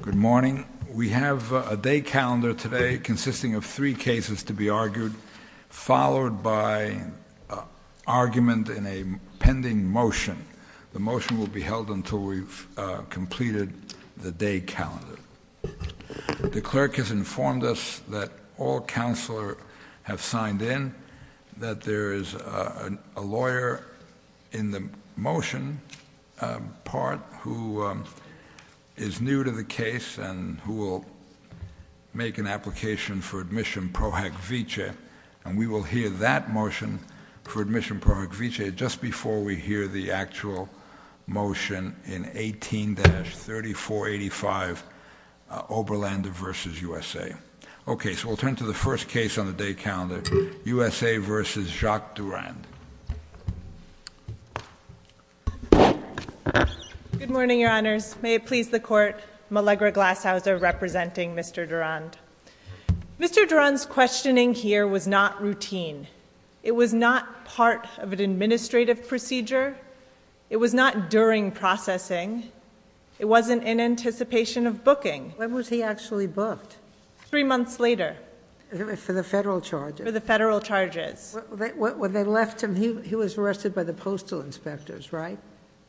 Good morning, we have a day calendar today consisting of three cases to be considered, followed by argument in a pending motion. The motion will be held until we've completed the day calendar. The clerk has informed us that all counselors have signed in, that there is a lawyer in the motion part who is new to the case and who will make an application for admission pro acvice, and we will hear that motion for admission pro acvice just before we hear the actual motion in 18-3485, Oberland v. USA. Okay, so we'll turn to the first case on the day calendar, USA v. Jacques Durand. Good morning, Your Honors, may it please the Court, Malegre Glasshouser representing Mr. Durand. Mr. Durand's questioning here was not routine. It was not part of an administrative procedure. It was not during processing. It wasn't in anticipation of booking. When was he actually booked? Three months later. For the federal charges? For the federal charges. When they left him, he was arrested by the postal inspectors, right?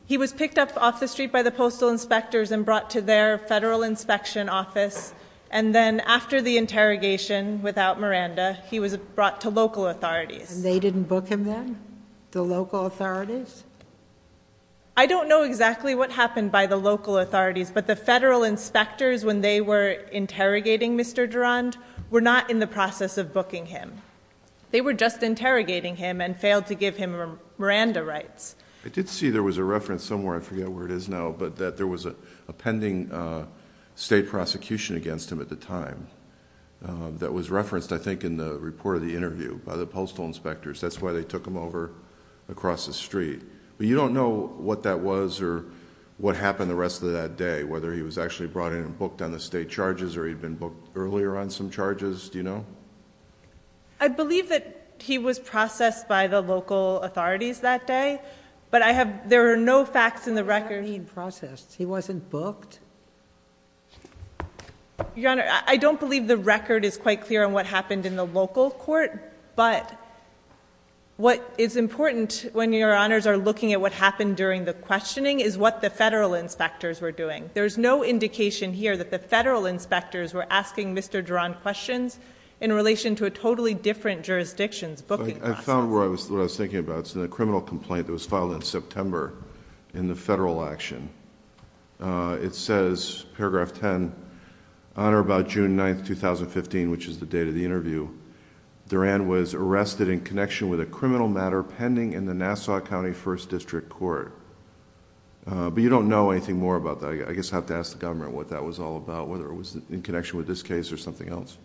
He was picked up off the street by the postal inspectors and brought to their federal inspection office, and then after the interrogation without Miranda, he was brought to local authorities. They didn't book him then, the local authorities? I don't know exactly what happened by the local authorities, but the federal inspectors, when they were interrogating Mr. Durand, were not in the process of booking him. They were just interrogating him and failed to give him Miranda rights. I did see there was a reference somewhere, I forget where it is now, but that there was a pending state prosecution against him at the time that was referenced, I think, in the report of the interview by the postal inspectors. That's why they took him over across the street. You don't know what that was or what happened the rest of that day, whether he was actually brought in and booked on the state charges or he'd been booked earlier on some charges? Do you know? I believe that he was processed by the local authorities that day, but there are no facts in the record. He was already in process. He wasn't booked? Your Honor, I don't believe the record is quite clear on what happened in the local court, but what is important when Your Honors are looking at what happened during the questioning is what the federal inspectors were doing. There's no indication here that the federal inspectors were asking Mr. Durand questions in relation to a totally different jurisdiction's booking process. I found what I was thinking about, it's in a criminal complaint that was filed in September in the federal action. It says, paragraph 10, on or about June 9th, 2015, which is the date of the interview, Durand was arrested in connection with a criminal matter pending in the Nassau County First District Court, but you don't know anything more about that. I guess I'd have to ask the government what that was all about, whether it was in connection with this case or something else.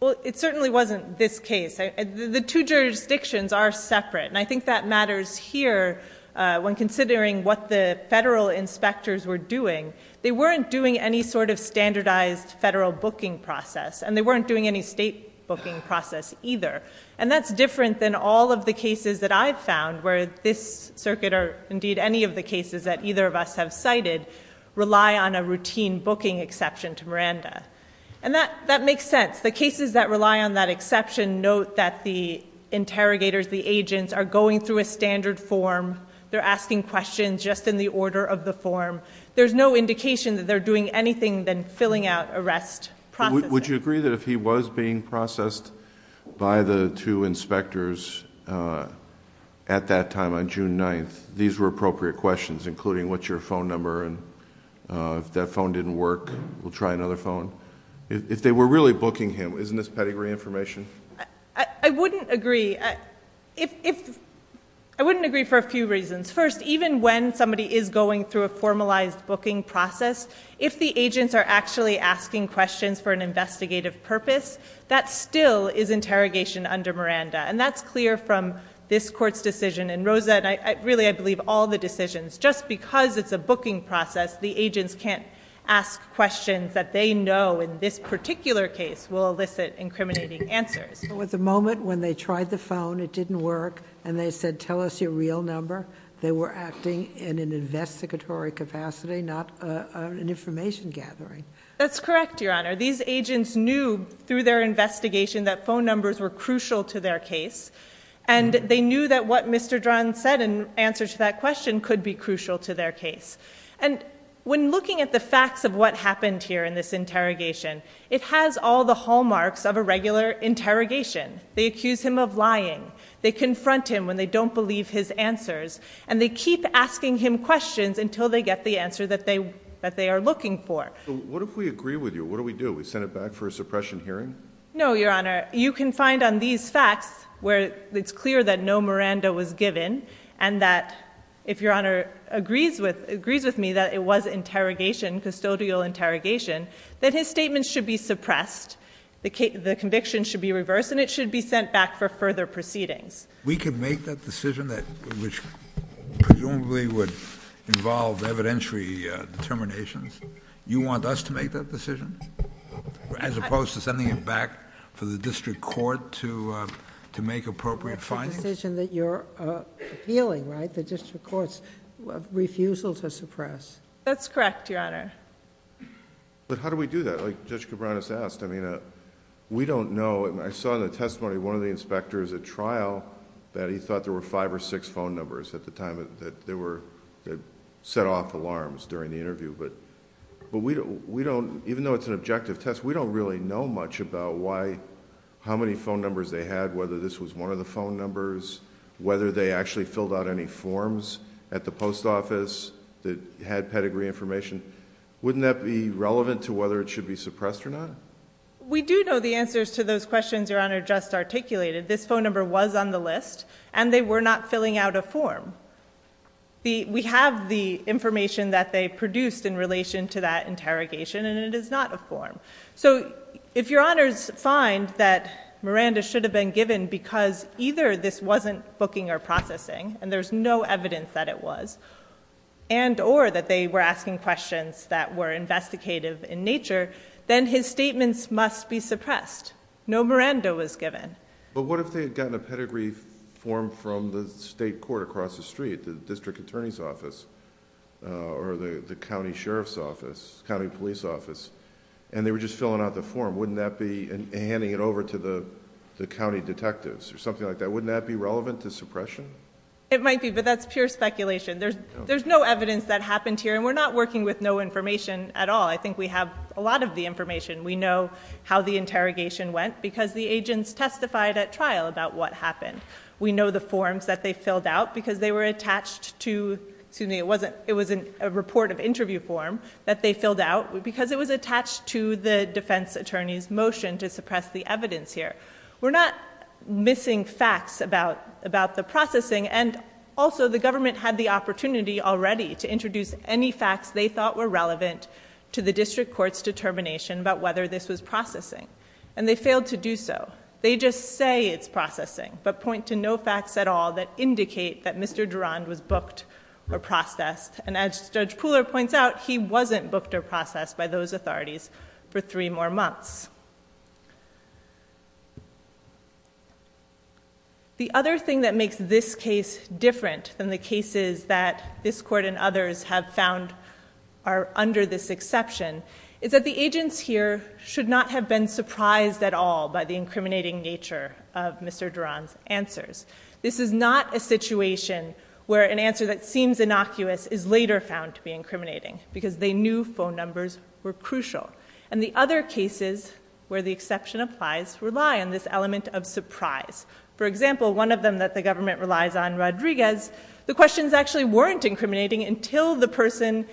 Well, it certainly wasn't this case. The two jurisdictions are separate, and I think that matters here when considering what the federal inspectors were doing. They weren't doing any sort of standardized federal booking process, and they weren't doing any state booking process either, and that's different than all of the cases that I've found where this circuit, or indeed any of the cases that either of us have cited, rely on a routine booking exception to Miranda, and that makes sense. The cases that rely on that exception note that the interrogators, the agents, are going through a standard form. They're asking questions just in the order of the form. There's no indication that they're doing anything other than filling out arrest processes. Would you agree that if he was being processed by the two inspectors at that time on June 9th, these were appropriate questions, including, what's your phone number, and if that phone didn't work, we'll try another phone? If they were really booking him, isn't this petty reinformation? I wouldn't agree. I wouldn't agree for a few reasons. First, even when somebody is going through a formalized booking process, if the agents are actually asking questions for an investigative purpose, that still is interrogation under Miranda, and that's clear from this court's decision, and Rosa, and really, I believe, all the decisions, just because it's a booking process, the agents can't ask questions that they know, in this particular case, will elicit incriminating answers. At the moment, when they tried the phone, it didn't work, and they said, tell us your real number, they were asking in an investigatory capacity, not an information gathering. That's correct, Your Honor. These agents knew, through their investigation, that phone numbers were crucial to their case, and they knew that what Mr. Dran said in answer to that question could be crucial to their case. And when looking at the facts of what happened here in this interrogation, it has all the hallmarks of a regular interrogation. They accuse him of lying, they confront him when they don't believe his answers, and they keep asking him questions until they get the answer that they are looking for. Well, what if we agree with you? What do we do? We send it back for a suppression hearing? No, Your Honor. You can find on these facts where it's clear that no Miranda was given, and that if Your Honor agrees with me that it was interrogation, custodial interrogation, that his statement should be suppressed, the conviction should be reversed, and it should be sent back for further proceedings. We can make that decision that presumably would involve evidentiary determinations. You want us to make that decision, as opposed to sending it back to the district court to make appropriate findings? You want us to make the decision that you're appealing, right, the district court's refusal to suppress. That's correct, Your Honor. But how do we do that? Like Judge Cabranes asked. I mean, we don't know. I saw in the testimony of one of the inspectors at trial that he thought there were five or six phone numbers at the time that they were... they set off alarms during the interview. But we don't... even though it's an objective test, we don't really know much about how many phone numbers they had, whether this was one of the phone numbers, whether they actually filled out any forms at the post office that had pedigree information. Wouldn't that be relevant to whether it should be suppressed or not? We do know the answers to those questions Your Honor just articulated. This phone number was on the list, and they were not filling out a form. We have the information that they produced in relation to that interrogation, and it is not a form. So if Your Honor finds that Miranda should have been given because either this wasn't booking or processing, and there's no evidence that it was, and or that they were asking questions that were investigative in nature, then his statements must be suppressed. No Miranda was given. But what if they had gotten a pedigree form from the state court across the street, the district attorney's office, or the county sheriff's office, county police office, and they were just filling out the form, wouldn't that be handing it over to the county detectives or something like that? Wouldn't that be relevant to suppression? It might be, but that's pure speculation. There's no evidence that happened here, and we're not working with no information at all. I think we have a lot of the information. We know how the interrogation went because the agents testified at trial about what happened. We know the forms that they filled out because they were attached to, it was a report of the defense attorney's motion to suppress the evidence here. We're not missing facts about the processing, and also the government had the opportunity already to introduce any facts they thought were relevant to the district court's determination about whether this was processing, and they failed to do so. They just say it's processing, but point to no facts at all that indicate that Mr. Durand was booked or processed, and as Judge Cooler points out, he wasn't booked or processed by those authorities for three more months. The other thing that makes this case different than the cases that this court and others have found are under this exception is that the agents here should not have been surprised at all by the incriminating nature of Mr. Durand's answers. This is not a situation where an answer that seems innocuous is later found to be incriminating because they knew phone numbers were crucial, and the other cases where the exception applies rely on this element of surprise. For example, one of them that the government relies on, Rodriguez, the questions actually weren't incriminating until the person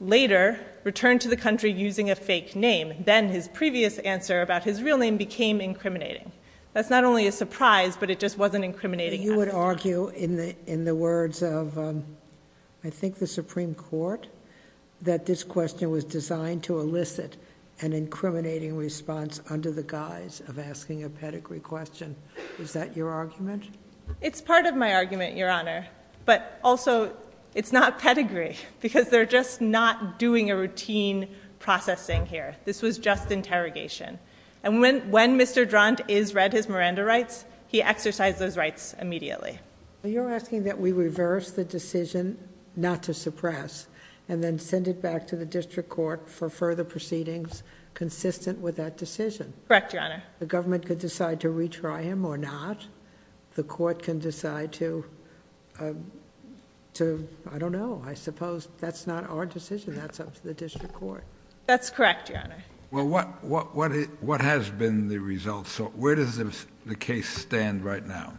later returned to the country using a fake name. Then his previous answer about his real name became incriminating. That's not only a surprise, but it just wasn't incriminating at all. I would argue in the words of, I think, the Supreme Court, that this question was designed to elicit an incriminating response under the guise of asking a pedigree question. Is that your argument? It's part of my argument, Your Honor, but also it's not pedigree because they're just not doing a routine processing here. This was just interrogation, and when Mr. Durand has read his Miranda rights, he exercised those rights immediately. You're asking that we reverse the decision not to suppress, and then send it back to the district court for further proceedings consistent with that decision? Correct, Your Honor. The government could decide to retry him or not. The court can decide to, I don't know, I suppose that's not our decision, that's up to the district court. That's correct, Your Honor. Well, what has been the result? Where does the case stand right now?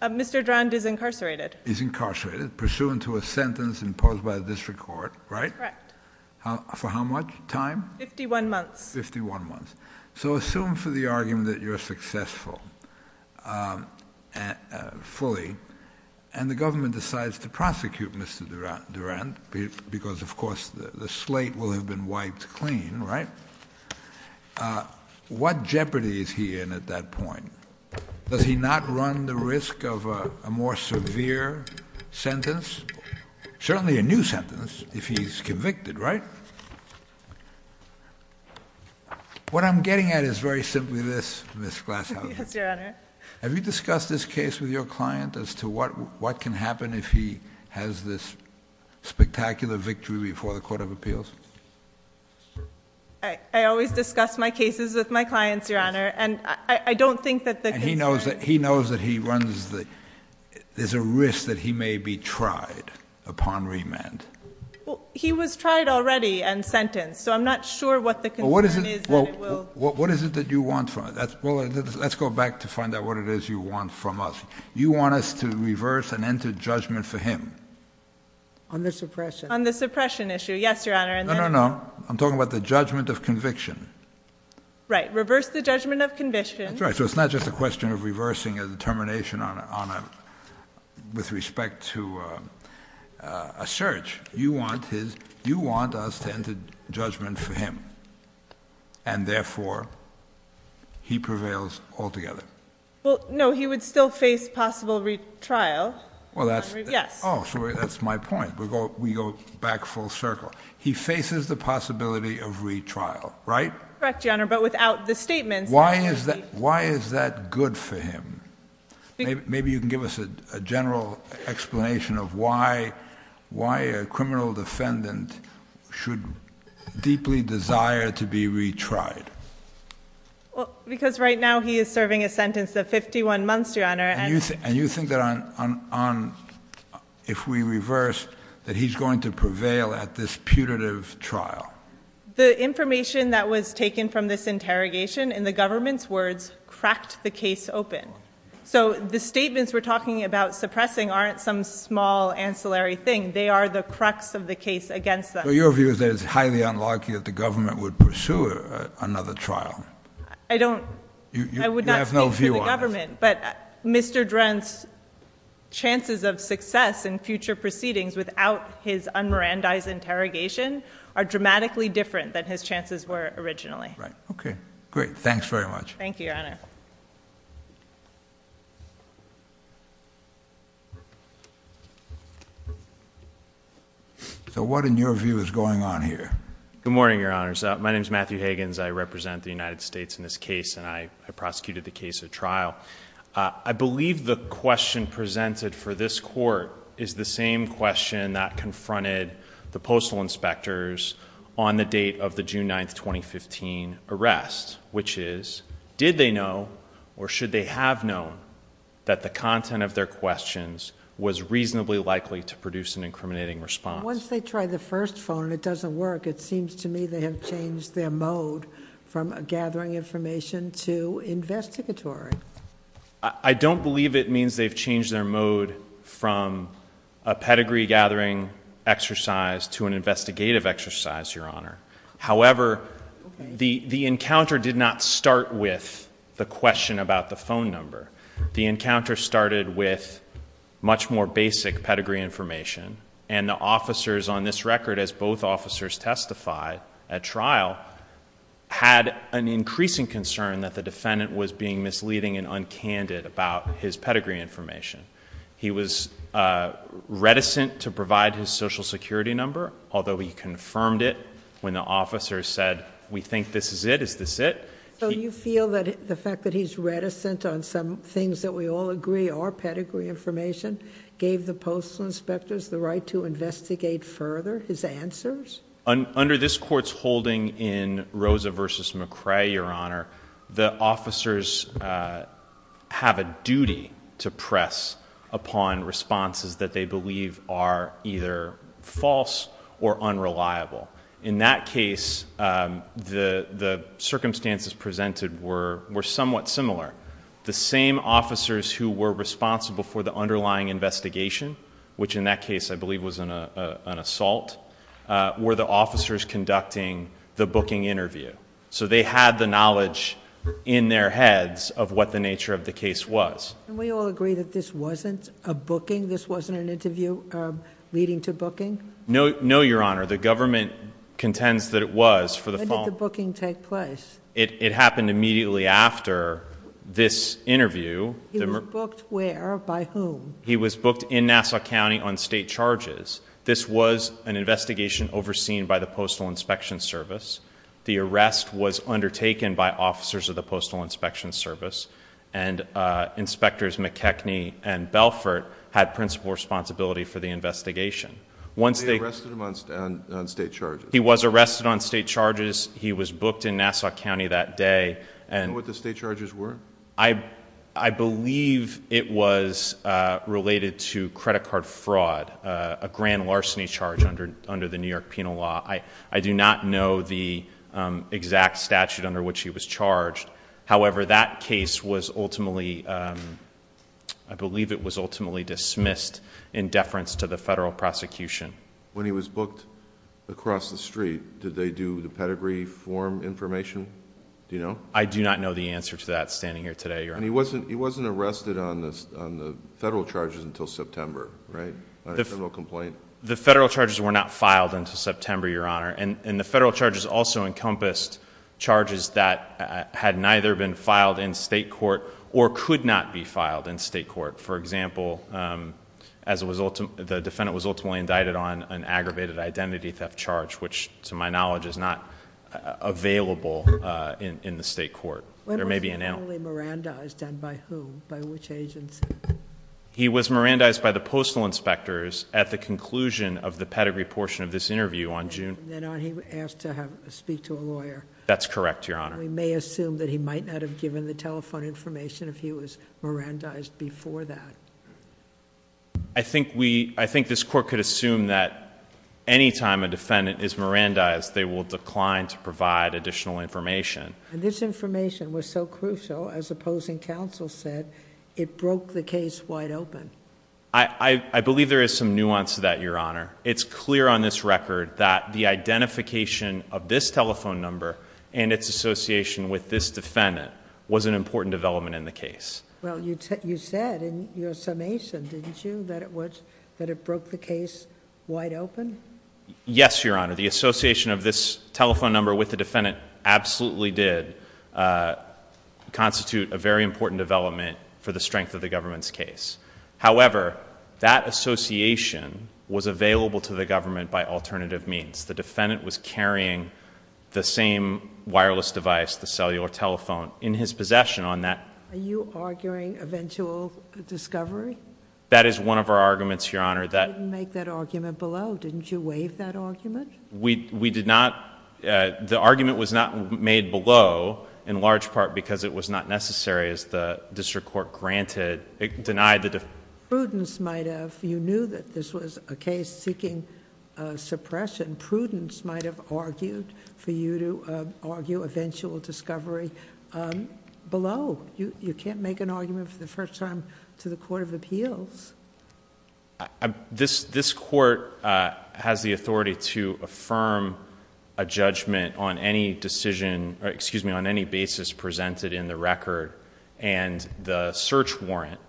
Mr. Durand is incarcerated. He's incarcerated, pursuant to a sentence imposed by the district court, right? Correct. For how much time? 51 months. 51 months. Mr. Durand, because, of course, the slate will have been wiped clean, right? What jeopardy is he in at that point? Does he not run the risk of a more severe sentence, certainly a new sentence, if he's convicted, right? What I'm getting at is very simply this, Ms. Glasshouse, have you discussed this case with your client as to what can happen if he has this spectacular victory before the Court of Appeals? All right. I always discuss my cases with my clients, Your Honor, and I don't think that the district court... He knows that he runs the... there's a risk that he may be tried upon remand. He was tried already and sentenced, so I'm not sure what the... Well, what is it that you want from it? Let's go back to find out what it is you want from us. You want us to reverse and enter judgment for him. On the suppression. On the suppression issue. Yes, Your Honor. No, no, no. I'm talking about the judgment of conviction. Right. Reverse the judgment of conviction. That's right. So it's not just a question of reversing a determination with respect to a search. You want us to enter judgment for him, and therefore, he prevails altogether. Well, no, he would still face possible retrial. Well, that's... Yes. Oh, sure. That's my point. We go back full circle. He faces the possibility of retrial, right? Correct, Your Honor, but without the statement... Why is that good for him? Maybe you can give us a general explanation of why a criminal defendant should deeply desire to be retried. Because right now, he is serving a sentence of 51 months, Your Honor, and... And you think that if we reverse, that he's going to prevail at this putative trial? The information that was taken from this interrogation, in the government's words, cracked the case open. So the statements we're talking about suppressing aren't some small, ancillary thing. They are the crux of the case against them. So your view is that it's highly unlikely that the government would pursue another trial? I don't... You have no view on it. I would not speak to the government, but Mr. Drenth's chances of success in future proceedings without his un-Mirandized interrogation are dramatically different than his chances were originally. Right. Okay, great. Thanks very much. Thank you, Your Honor. So what, in your view, is going on here? Good morning, Your Honors. My name is Matthew Higgins. I represent the United States in this case, and I prosecuted the case at trial. I believe the question presented for this Court is the same question that confronted the Postal Inspectors on the date of the June 9, 2015, arrest, which is, did they know, or should they have known, that the content of their questions was reasonably likely to produce an incriminating response? Once they try the first phone and it doesn't work, it seems to me they have changed their mode from gathering information to investigatory. I don't believe it means they've changed their mode from a pedigree gathering exercise to an investigative exercise, Your Honor. However, the encounter did not start with the question about the phone number. The encounter started with much more basic pedigree information, and the officers on this record, as both officers testified at trial, had an increasing concern that the pedigree information was incriminating and uncandid about his pedigree information. He was reticent to provide his social security number, although he confirmed it when the officers said, we think this is it, is this it? So you feel that the fact that he's reticent on some things that we all agree are pedigree information gave the Postal Inspectors the right to investigate further his answers? Under this Court's holding in Rosa v. McCrae, Your Honor, the officers have a duty to press upon responses that they believe are either false or unreliable. In that case, the circumstances presented were somewhat similar. The same officers who were responsible for the underlying investigation, which in that case were the officers conducting the booking interview. So they had the knowledge in their heads of what the nature of the case was. Can we all agree that this wasn't a booking? This wasn't an interview leading to booking? No, Your Honor. The government contends that it was for the phone. When did the booking take place? It happened immediately after this interview. He was booked where? By whom? He was booked in Nassau County on state charges. This was an investigation overseen by the Postal Inspection Service. The arrest was undertaken by officers of the Postal Inspection Service. And Inspectors McKechnie and Belfort had principal responsibility for the investigation. Once they arrested him on state charges? He was arrested on state charges. He was booked in Nassau County that day. Do you know what the state charges were? I believe it was related to credit card fraud, a grand larceny charge under the New York Penal Law. I do not know the exact statute under which he was charged. However, that case was ultimately, I believe it was ultimately dismissed in deference to the federal prosecution. When he was booked across the street, did they do the pedigree form information? Do you know? I do not know the answer to that standing here today, Your Honor. He wasn't arrested on the federal charges until September, right? A federal complaint? The federal charges were not filed until September, Your Honor. And the federal charges also encompassed charges that had neither been filed in state court or could not be filed in state court. For example, as a result, the defendant was ultimately indicted on an aggravated identity theft charge, which to my knowledge is not available in the state court. He was merandized by whom, by which agent? He was merandized by the postal inspectors at the conclusion of the pedigree portion of this interview on June. And then he was asked to speak to a lawyer. That's correct, Your Honor. We may assume that he might not have given the telephone information if he was merandized before that. I think we, I think this court could assume that any time a defendant is merandized, they will decline to provide additional information. This information was so crucial, as opposing counsel said, it broke the case wide open. I believe there is some nuance to that, Your Honor. It's clear on this record that the identification of this telephone number and its association with this defendant was an important development in the case. Well, you said in your summation, didn't you, that it was, that it broke the case wide open? Yes, Your Honor. The association of this telephone number with the defendant absolutely did constitute a very important development for the strength of the government's case. However, that association was available to the government by alternative means. The defendant was carrying the same wireless device, the cellular telephone, in his possession on that. Are you arguing eventual discovery? That is one of our arguments, Your Honor. How did you make that argument below? Didn't you waive that argument? We did not, the argument was not made below, in large part because it was not necessary as the district court granted, denied the defendant. Prudence might have. You knew that this was a case seeking suppression. Prudence might have argued for you to argue eventual discovery below. You can't make an argument for the first time to the court of appeals. This court has the authority to affirm a judgment on any decision, excuse me, on any basis presented in the record and the search warrant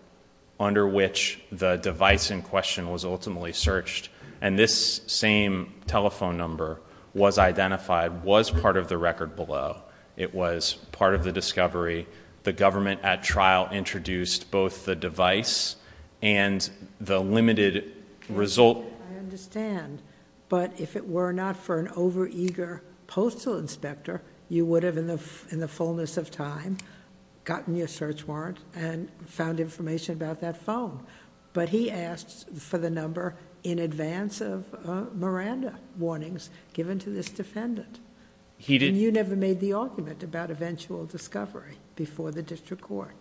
under which the device in question was ultimately searched and this same telephone number was identified, was part of the record below. It was part of the discovery. The government at trial introduced both the device and the limited result... I understand, but if it were not for an overeager postal inspector, you would have, in the fullness of time, gotten your search warrant and found information about that phone, but he asked for the number in advance of Miranda warnings given to this defendant. He did... And you never made the argument about eventual discovery before the district court.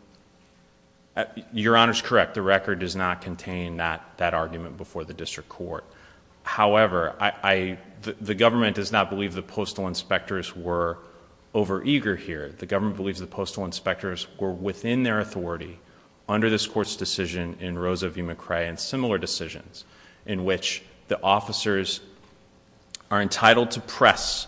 Your Honor is correct. The record does not contain that argument before the district court. However, the government does not believe the postal inspectors were overeager here. The government believes the postal inspectors were within their authority under this court's decision in Rosa v. McCray and similar decisions in which the officers are entitled to press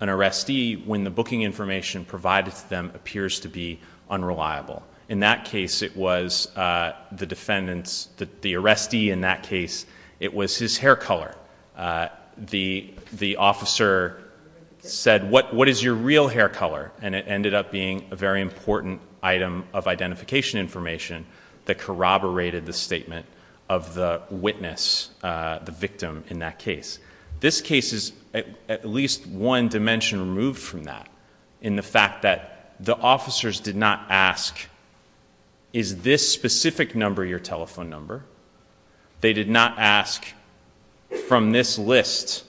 an arrestee when the booking information provided to them appears to be unreliable. In that case, it was the defendant's... the arrestee in that case, it was his hair color. The officer said, what is your real hair color? And it ended up being a very important item of identification information that corroborated the statement of the witness, the victim in that case. This case is at least one dimension removed from that in the fact that the officers did not ask, is this specific number your telephone number? They did not ask from this list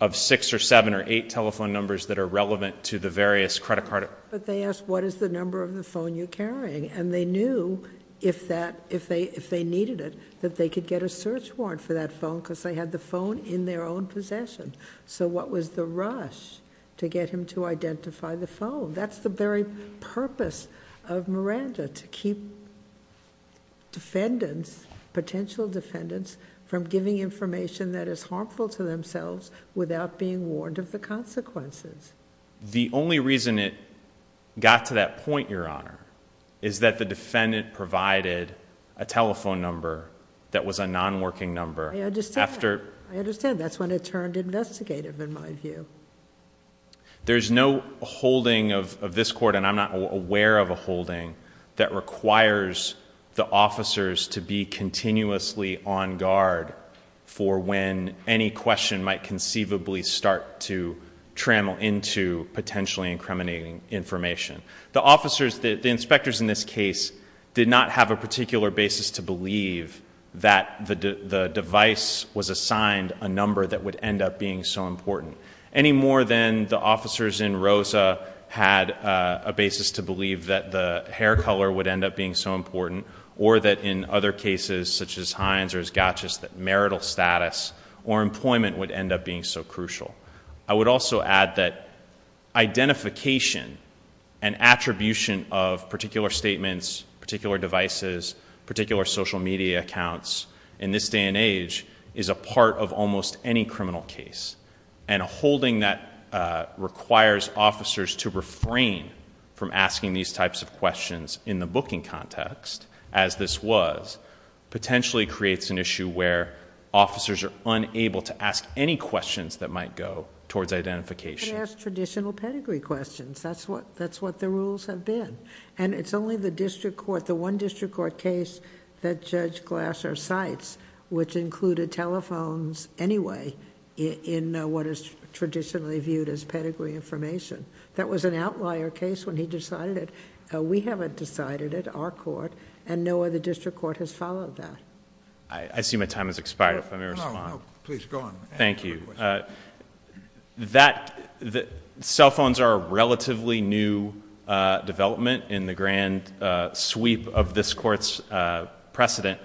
of six or seven or eight telephone numbers that are relevant to the various credit card... But they asked, what is the number of the phone you're carrying? And they knew if they needed it, that they could get a search warrant for that phone because they had the phone in their own possession. So what was the rush to get him to identify the phone? That's the very purpose of Miranda, to keep defendants, potential defendants, from giving information that is harmful to themselves without being warned of the consequences. The only reason it got to that point, Your Honor, is that the defendant provided a telephone number that was a non-working number after... I understand. I understand. That's when it turned investigative in my view. There's no holding of this court, and I'm not aware of a holding, that requires the officers to be continuously on guard for when any question might conceivably start to trammel into potentially incriminating information. The officers, the inspectors in this case, did not have a particular basis to believe that the device was assigned a number that would end up being so important, any more than the officers in Rosa had a basis to believe that the hair color would end up being so important, or that in other cases, such as Hines or Gatchis, that marital status or employment would end up being so crucial. I would also add that identification and attribution of particular statements, particular devices, particular social media accounts, in this day and age, is a part of almost any criminal case, and a holding that requires officers to refrain from asking these types of questions in the booking context, as this was, potentially creates an issue where officers are unable to ask any questions that might go towards identification. They ask traditional pedigree questions, that's what the rules have been, and it's only the district court, the one district court case that Judge Glasser cites, which included telephones anyway in what is traditionally viewed as pedigree information. That was an outlier case when he decided it. We haven't decided it, our court, and no other district court has followed that. I see my time has expired. Let me respond. Please go on. Thank you. Cell phones are a relatively new development in the grand sweep of this court's precedent,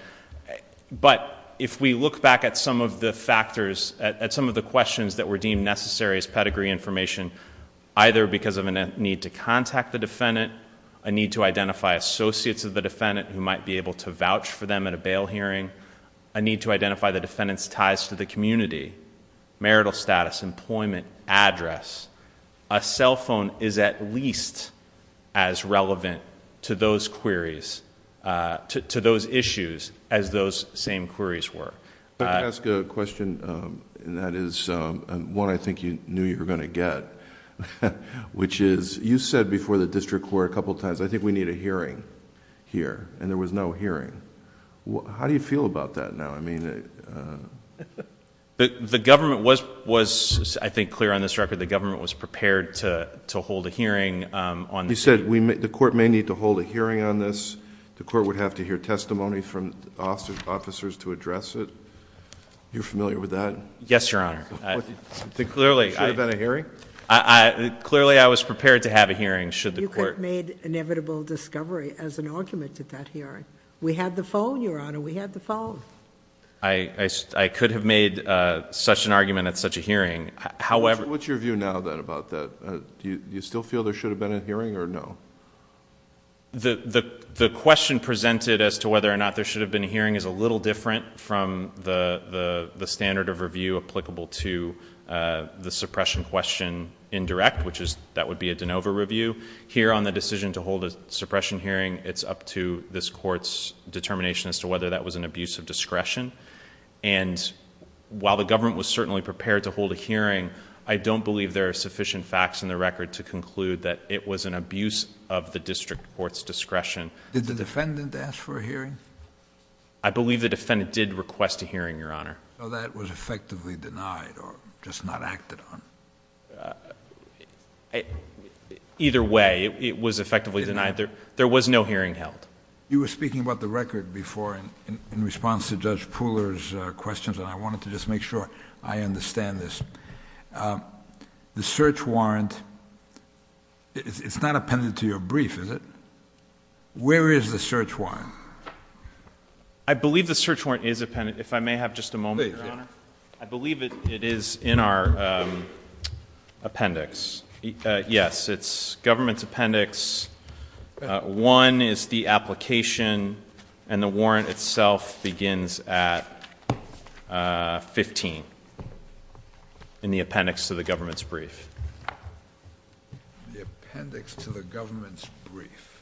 but if we look back at some of the factors, at some of the questions that were deemed necessary as pedigree information, either because of a need to contact the defendant, a need to identify associates of the defendant who might be able to vouch for them at a bail hearing, a need to identify the defendant's ties to the community, marital status, employment address, a cell phone is at least as relevant to those queries, to those issues, as those same queries were. Let me ask a question that is one I think you knew you were going to get, which is, you said before the district court a couple of times, I think we need a hearing here, and there was no hearing. How do you feel about that now? The government was, I think, clear on this record, the government was prepared to hold a hearing on this issue. You said the court may need to hold a hearing on this. The court would have to hear testimony from officers to address it. You're familiar with that? Yes, Your Honor. Clearly, I was prepared to have a hearing, should the court — You just made inevitable discovery as an argument at that hearing. We had the phone, Your Honor. We had the phone. I could have made such an argument at such a hearing, however — What's your view now, then, about that? Do you still feel there should have been a hearing or no? The question presented as to whether or not there should have been a hearing is a little different from the standard of review applicable to the suppression question in direct, which is that would be a de novo review. Here on the decision to hold a suppression hearing, it's up to this court's determination as to whether that was an abuse of discretion. And while the government was certainly prepared to hold a hearing, I don't believe there are sufficient facts in the record to conclude that it was an abuse of the district court's discretion. Did the defendant ask for a hearing? I believe the defendant did request a hearing, Your Honor. So that was effectively denied or just not acted on? Either way, it was effectively denied. There was no hearing held. You were speaking about the record before in response to Judge Pooler's questions, and I wanted to just make sure I understand this. The search warrant, it's not appended to your brief, is it? Where is the search warrant? I believe the search warrant is appended. If I may have just a moment, Your Honor. I believe it is in our appendix. Yes, it's government's appendix. One is the application, and the warrant itself begins at 15 in the appendix to the government's brief. The appendix to the government's brief.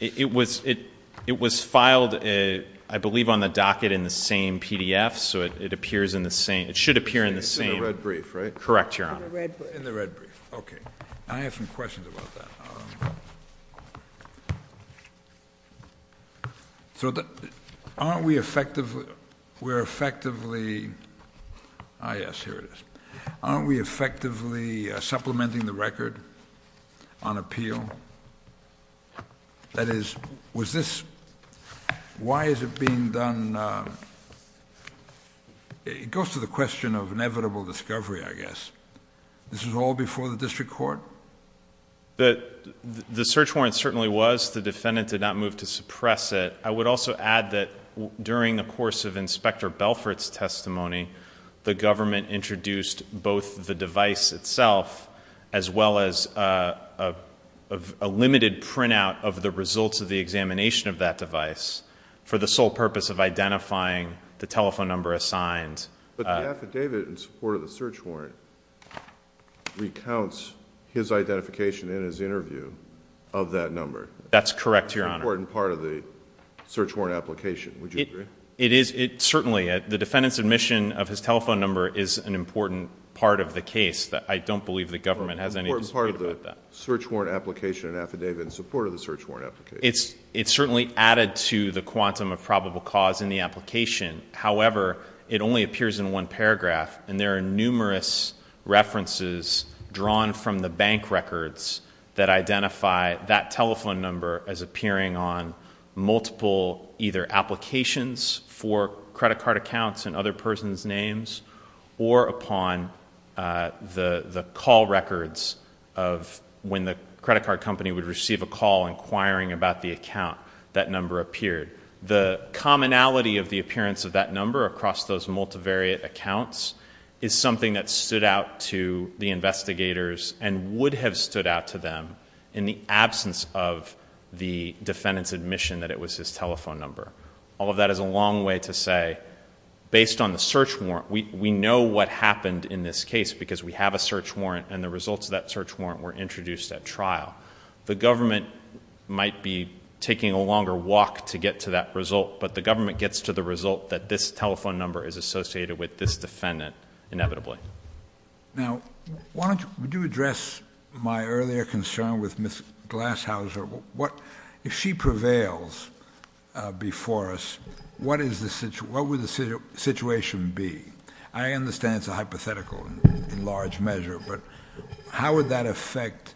It was filed, I believe, on the docket in the same PDF, so it appears in the same... It should appear in the same... In the red brief, right? Correct, Your Honor. In the red brief. In the red brief. Okay. I have some questions about that. So aren't we effectively... We're effectively... Ah, yes, here it is. Aren't we effectively supplementing the record on appeal? That is, was this... Why is it being done... It goes to the question of inevitable discovery, I guess. This is all before the district court? The search warrant certainly was. The defendant did not move to suppress it. I would also add that during the course of Inspector Belfort's testimony, the government introduced both the device itself, as well as a limited printout of the results of the examination of that device, for the sole purpose of identifying the telephone number assigned. But the affidavit in support of the search warrant recounts his identification in his interview of that number. That's correct, Your Honor. An important part of the search warrant application, would you agree? It is. Certainly. The defendant's admission of his telephone number is an important part of the case, but I don't believe the government has any... It's an important part of the search warrant application and affidavit in support of the search warrant application. It's certainly added to the quantum of probable cause in the application. However, it only appears in one paragraph, and there are numerous references drawn from the bank records that identify that telephone number as appearing on multiple either applications for credit card accounts and other persons' names, or upon the call records of when the credit card company would receive a call inquiring about the account that number appeared. The commonality of the appearance of that number across those multivariate accounts is something that stood out to the investigators and would have stood out to them in the absence of the defendant's admission that it was his telephone number. All of that is a long way to say, based on the search warrant, we know what happened in this case because we have a search warrant, and the results of that search warrant were introduced at trial. The government might be taking a longer walk to get to that result, but the government gets to the result that this telephone number is associated with this defendant, inevitably. Now, why don't you address my earlier concern with Ms. Glashauser. If she prevails before us, what would the situation be? I understand it's a hypothetical in large measure, but how would that affect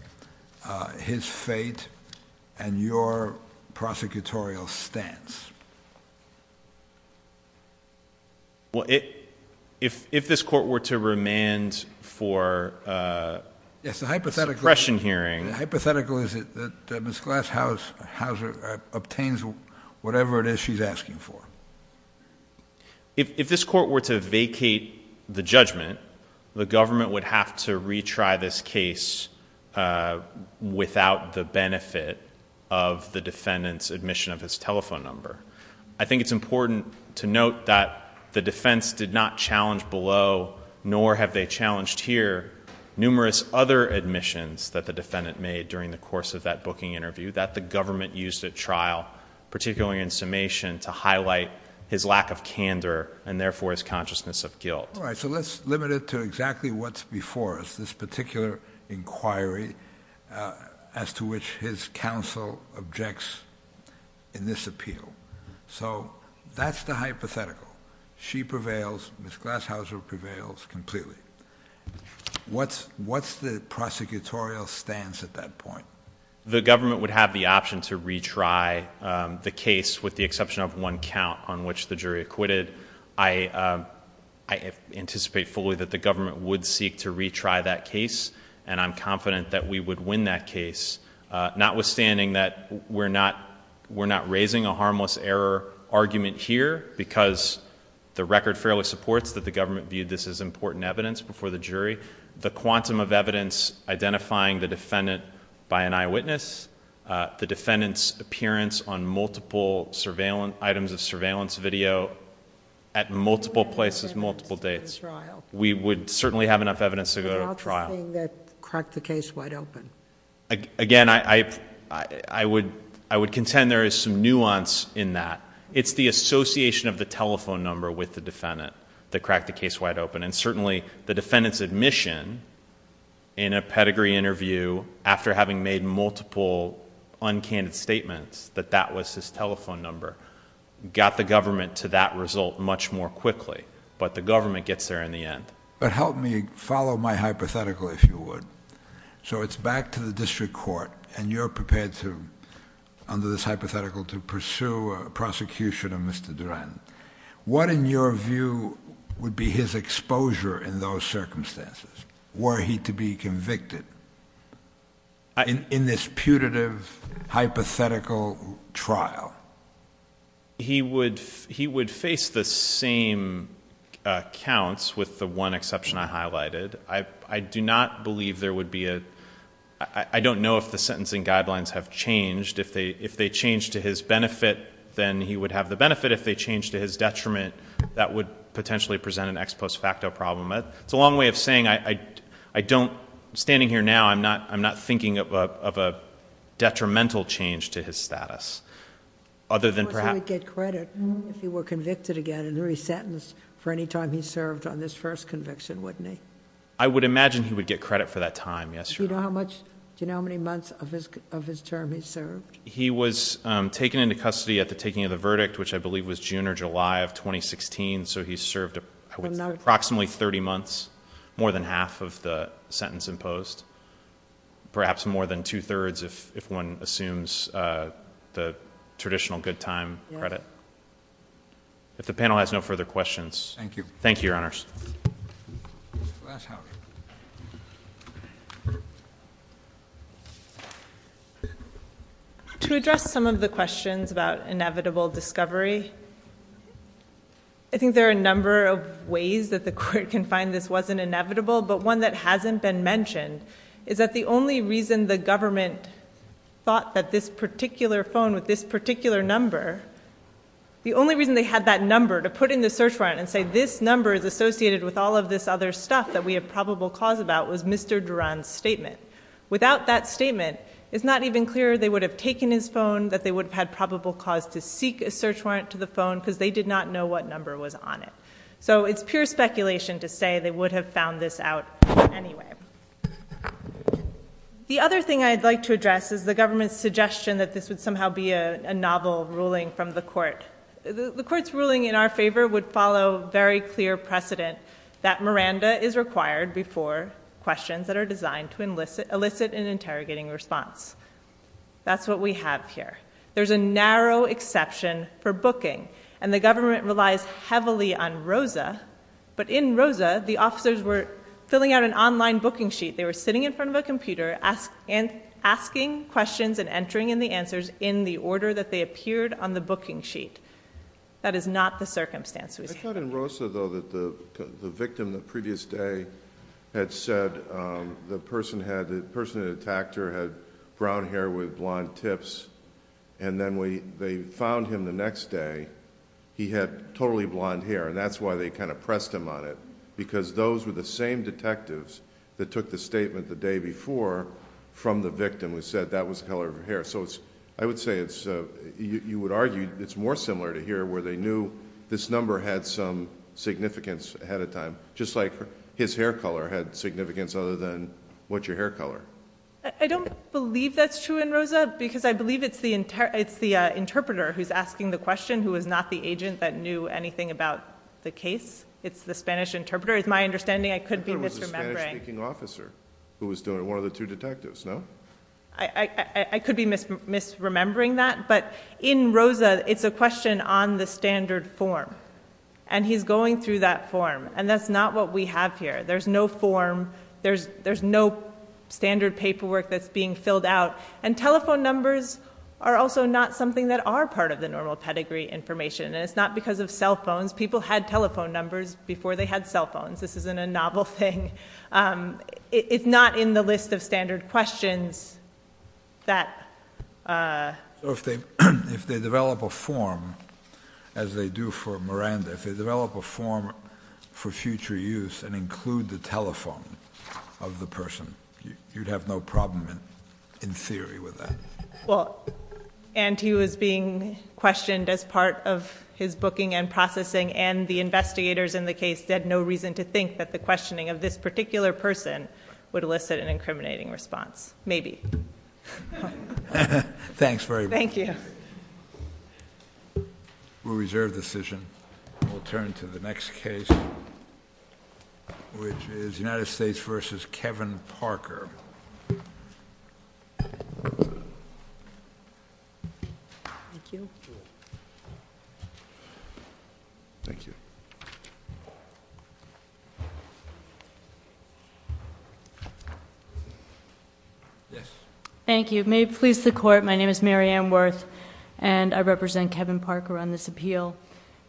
his fate and your prosecutorial stance? Well, if this court were to remand for a question hearing... It's a hypothetical. The hypothetical is that Ms. Glashauser obtains whatever it is she's asking for. If this court were to vacate the judgment, the government would have to retry this case without the benefit of the defendant's admission of his telephone number. I think it's important to note that the defense did not challenge below, nor have they challenged here, numerous other admissions that the defendant made during the course of that booking interview that the government used at trial, particularly in summation, to highlight his lack of candor and therefore his consciousness of guilt. All right, so let's limit it to exactly what's before us, this particular inquiry as to which his counsel objects in this appeal. So that's the hypothetical. She prevails. Ms. Glashauser prevails completely. What's the prosecutorial stance at that point? The government would have the option to retry the case with the exception of one count on which the jury acquitted. I anticipate fully that the government would seek to retry that case, and I'm confident that we would win that case, notwithstanding that we're not raising a harmless error argument here because the record fairly supports that the government viewed this as important evidence before the jury. The quantum of evidence identifying the defendant by an eyewitness, the defendant's appearance on multiple items of surveillance video at multiple places, multiple days, we would certainly have enough evidence to go to trial. And how about saying that cracked the case wide open? Again, I would contend there is some nuance in that. It's the association of the telephone number with the defendant that cracked the case wide open, and certainly the defendant's admission in a pedigree interview after having made multiple uncanny statements that that was his telephone number got the government to that result much more quickly. But the government gets there in the end. But help me follow my hypothetical, if you would. So it's back to the district court, and you're prepared, under this hypothetical, to pursue a prosecution of Mr. Duren. What, in your view, would be his exposure in those circumstances? Were he to be convicted in this putative, hypothetical trial? He would face the same counts, with the one exception I highlighted. I do not believe there would be a — I don't know if the sentencing guidelines have changed. If they change to his benefit, then he would have the benefit. If they change to his detriment, that would potentially present an ex post facto problem. It's a long way of saying I don't — standing here now, I'm not thinking of a detrimental change to his status, other than perhaps — If he were convicted again and re-sentenced for any time he served on this first conviction, wouldn't he? I would imagine he would get credit for that time, yes. Do you know how many months of his term he served? He was taken into custody at the taking of the verdict, which I believe was June or July of 2016, so he served approximately 30 months, more than half of the sentence imposed, perhaps more than two-thirds, if one assumes the traditional good time credit. If the panel has no further questions — To address some of the questions about inevitable discovery, I think there are a number of ways that the Court can find this wasn't inevitable, but one that hasn't been mentioned is that the only reason the government thought that this particular phone with this particular number — The only reason they had that number to put in the search warrant and say this number is associated with all of this other stuff that we have probable cause about was Mr. Duran's statement. Without that statement, it's not even clear they would have taken his phone, that they would have had probable cause to seek a search warrant to the phone because they did not know what number was on it. So it's pure speculation to say they would have found this out anywhere. The other thing I'd like to address is the government's suggestion that this would somehow be a novel ruling from the Court. The Court's ruling in our favor would follow very clear precedent that Miranda is required before questions that are designed to elicit an interrogating response. That's what we have here. There's a narrow exception for booking, and the government relies heavily on ROSA, but in ROSA, the officers were filling out an online booking sheet. They were sitting in front of a computer asking questions and entering in the answers in the order that they appeared on the booking sheet. That is not the circumstance. I thought in ROSA, though, that the victim the previous day had said the person who attacked her had brown hair with blonde tips, and then they found him the next day. He had totally blonde hair, and that's why they kind of pressed him on it, because those were the same detectives that took the statement the day before from the victim who said that was the color of her hair. So I would say you would argue it's more similar to here where they knew this number had some significance ahead of time, just like his hair color had significance other than what's your hair color. I don't believe that's true in ROSA, because I believe it's the interpreter who's asking the question who is not the agent that knew anything about the case. It's the Spanish interpreter. It's my understanding I could be misremembering. I thought it was the Spanish-speaking officer who was doing it, one of the two detectives, no? I could be misremembering that, but in ROSA, it's a question on the standard form, and he's going through that form, and that's not what we have here. There's no form. There's no standard paperwork that's being filled out, and telephone numbers are also not something that are part of the normal pedigree information, and it's not because of cell phones. People had telephone numbers before they had cell phones. This isn't a novel thing. It's not in the list of standard questions that... If they develop a form, as they do for Miranda, if they develop a form for future use and include the telephone of the person, you'd have no problem in theory with that. And he was being questioned as part of his booking and processing, and the investigators in the case had no reason to think that the questioning of this particular person would elicit an incriminating response. Maybe. Thanks very much. We'll turn to the next case, which is United States v. Kevin Parker. Thank you. Thank you. May it please the Court, my name is Mary Ann Wirth, and I represent Kevin Parker on this appeal.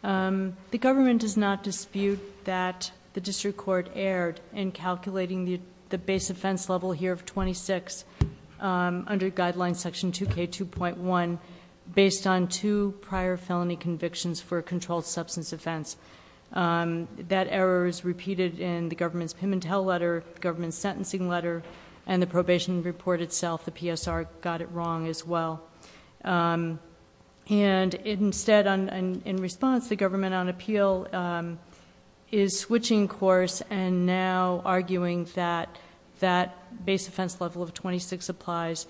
The government does not dispute that the district court erred in calculating the base offense level here of 26 under Guideline Section 2K2.1 based on two prior felony convictions for a controlled substance offense. That error is repeated in the government's Pimentel letter, the government's sentencing letter, and the probation report itself. The PSR got it wrong as well. And instead, in response, the government on appeal is switching course and now arguing that that base offense level of 26 applies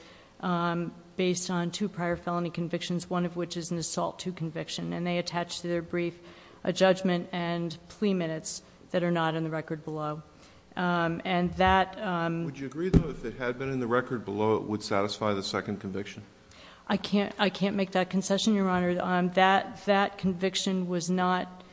based on two prior felony convictions, one of which is an assault to conviction. And they attach to their brief a judgment and plea minutes that are not in the record below. Would you agree that if it had been in the record below, it would satisfy the second conviction? I can't make that concession, Your Honor. That conviction was not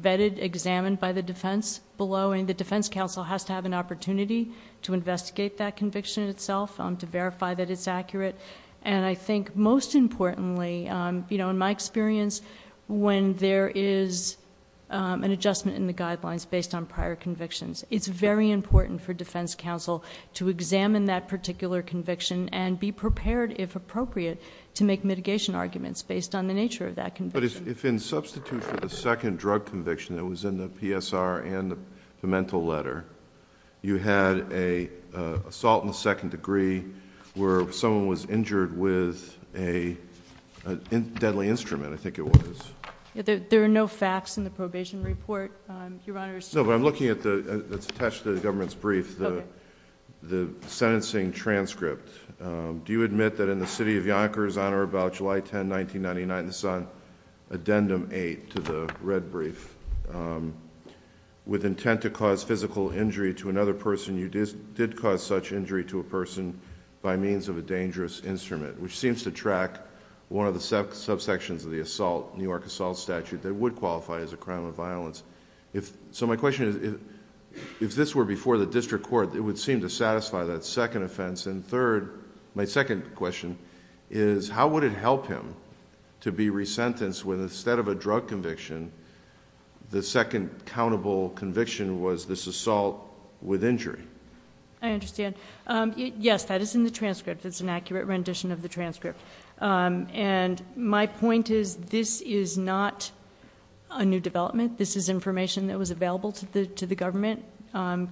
vetted, examined by the defense below, and the defense counsel has to have an opportunity to investigate that conviction itself to verify that it's accurate. And I think most importantly, in my experience, when there is an adjustment in the guidelines based on prior convictions, it's very important for defense counsel to examine that particular conviction and be prepared, if appropriate, to make mitigation arguments based on the nature of that conviction. But if in substitute for the second drug conviction that was in the PSR and the mental letter, you had an assault in the second degree where someone was injured with a deadly instrument, I think it was. There are no facts in the probation report, Your Honor. No, but I'm looking at the, it's attached to the government's brief, the sentencing transcript. Do you admit that in the city of Yonkers, Your Honor, about July 10, 1999, it's on addendum 8 to the red brief, with intent to cause physical injury to another person, you did cause such injury to a person by means of a dangerous instrument, which seems to track one of the subsections of the assault, New York assault statute, that would qualify as a crime of violence. So my question is, if this were before the district court, it would seem to satisfy that second offense. And third, my second question is, how would it help him to be resentenced when instead of a drug conviction, the second countable conviction was this assault with injury? I understand. Yes, that is in the transcript. It's an accurate rendition of the transcript. And my point is, this is not a new development. This is information that was available to the government,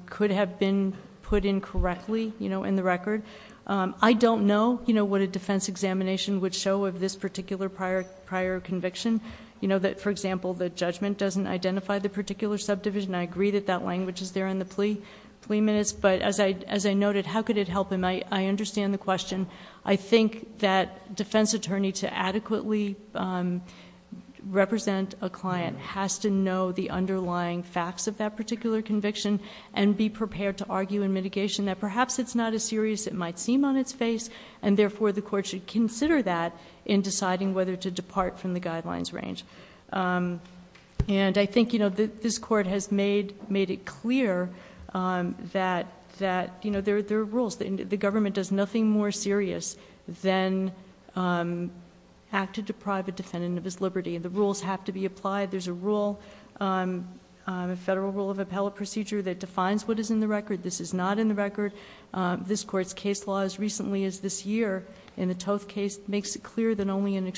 could have been put in correctly, you know, in the record. I don't know, you know, what a defense examination would show of this particular prior conviction. You know, that, for example, the judgment doesn't identify the particular subdivision. I agree that that language is there in the plea minutes, but as I noted, how could it help him? I understand the question. I think that defense attorney to adequately represent a client has to know the underlying facts of that particular conviction and be prepared to argue in mitigation that perhaps it's not as serious it might seem on its face, and therefore the court should consider that in deciding whether to make it clear that, you know, there are rules. The government does nothing more serious than have to deprive a defendant of his liberty. The rules have to be applied. There's a rule, a federal rule of appellate procedure that defines what is in the record. This is not in the record. This court's case law as recently as this year in the Toth case makes it clear that only in a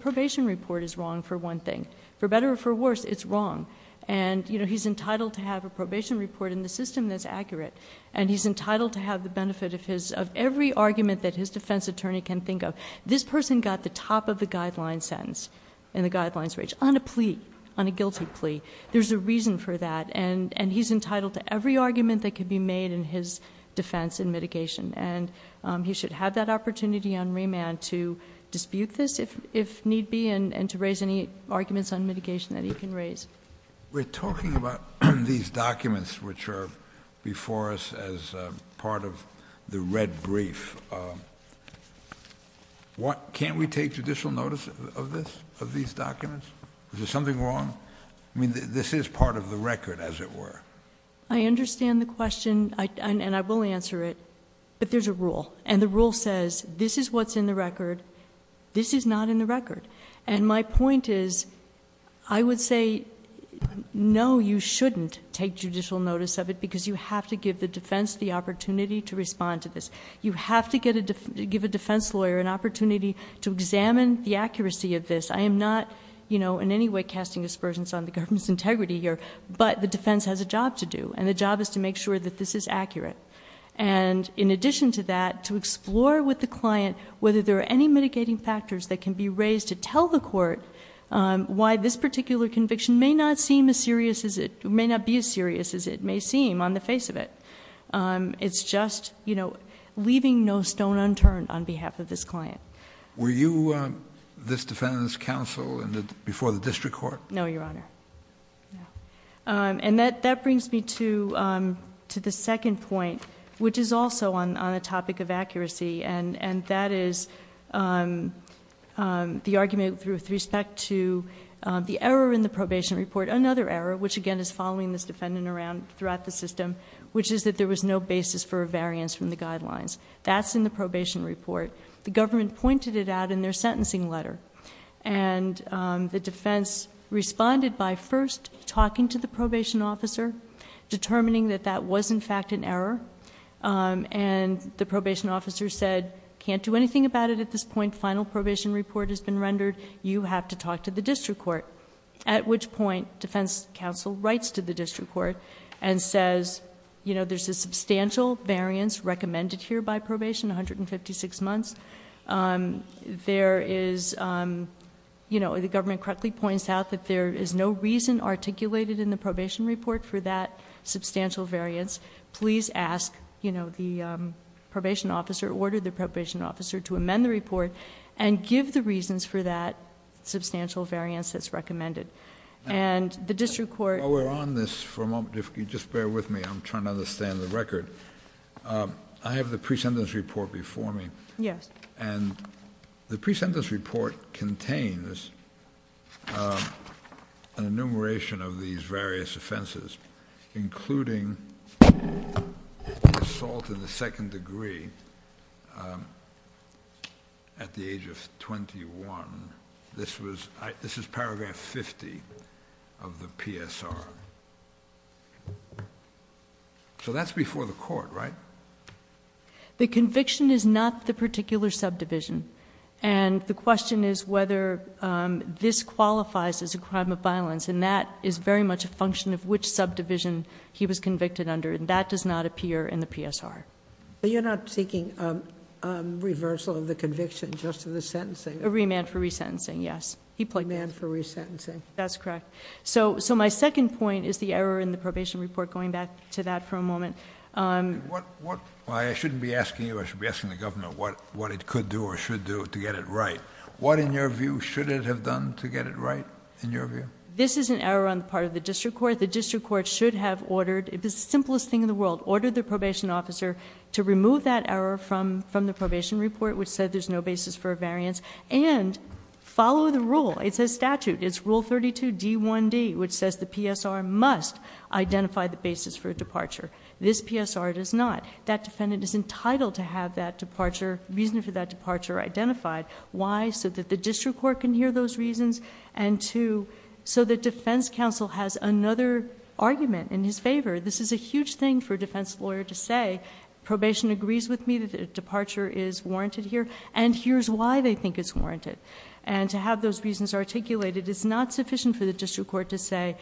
probation report is wrong for one thing. For better or for worse, it's wrong. And, you know, he's entitled to have a probation report in the system that's accurate. And he's entitled to have the benefit of every argument that his defense attorney can think of. This person got the top of the guideline sentence in the guidelines range on a plea, on a guilty plea. There's a reason for that. And he's entitled to every argument that can be made in his defense in mitigation. And he should have that opportunity on remand to dispute this if need be and to raise any arguments on mitigation that he can raise. We're talking about these documents which are before us as part of the red brief. Can't we take judicial notice of this, of these documents? Is there something wrong? I mean, this is part of the record, as it were. I understand the question, and I will answer it. But there's a rule. And the rule says this is what's in the record. This is not in the record. And my point is, I would say no, you shouldn't take judicial notice of it because you have to give the defense the opportunity to respond to this. You have to give a defense lawyer an opportunity to examine the accuracy of this. I am not in any way casting aspersions on the government's integrity here, but the defense has a job to do. And the job is to make sure that this is accurate. And in addition to that, to explore with the client whether there are any mitigating factors that can be raised to tell the court why this particular conviction may not seem as serious as it may seem on the face of it. It's just leaving no stone unturned on behalf of this client. Were you this defendant's counsel before the district court? No, Your Honor. And that brings me to the second point, which is also on a topic of accuracy. And that is the argument with respect to the error in the probation report. Another error, which again is following this defendant throughout the system, which is that there was no basis for a variance from the guidelines. That's in the probation report. The government pointed it out in their sentencing letter. And the defense responded by first talking to the probation officer, determining that that was in fact an error. And the probation officer said, can't do anything about it at this point. Final probation report has been rendered. You have to talk to the district court. At which point, defense counsel writes to the district court and says, there's a substantial variance recommended here by probation, 156 months. The government correctly points out that there is no reason articulated in the probation report for that substantial variance. Please ask the probation officer to amend the report and give the reasons for that substantial variance that's recommended. And the district court... While we're on this for a moment, if you just bear with me, I'm trying to understand the record. I have the pre-sentence report before me. Yes. And the pre-sentence report contains an enumeration of these various offenses, including assault to the head, assault to the head, and assault to the head. And this is at the age of 21. This is paragraph 50 of the PSR. So that's before the court, right? The conviction is not the particular subdivision. And the question is whether this qualifies as a crime of violence. And that is very much a function of which subdivision he was convicted under. And that does not appear in the PSR. But you're not seeking a reversal of the conviction just for the sentencing? A remand for resentencing, yes. A remand for resentencing. That's correct. So my second point is the error in the probation report, going back to that for a moment. Well, I shouldn't be asking you, I should be asking the Governor what it could do or should do to get it right. What, in your view, should it have done to get it right, in your view? This is an error on the part of the district court. The district court should have ordered, it's the simplest thing in the world, ordered the probation officer to remove that error from the probation report, which said there's no basis for a variance, and follow the rule. It's a statute. It's Rule 32, D1D, which says the PSR must identify the basis for a departure. This PSR does not. That defendant is entitled to have that departure, reason for that departure identified. Why? So that the district court can hear those reasons, and to, so the defense counsel has another argument in his favor. This is a huge thing for a defense lawyer to say, probation agrees with me that a departure is warranted here, and here's why they think it's warranted. And to have those reasons articulated is not sufficient for the district court to say,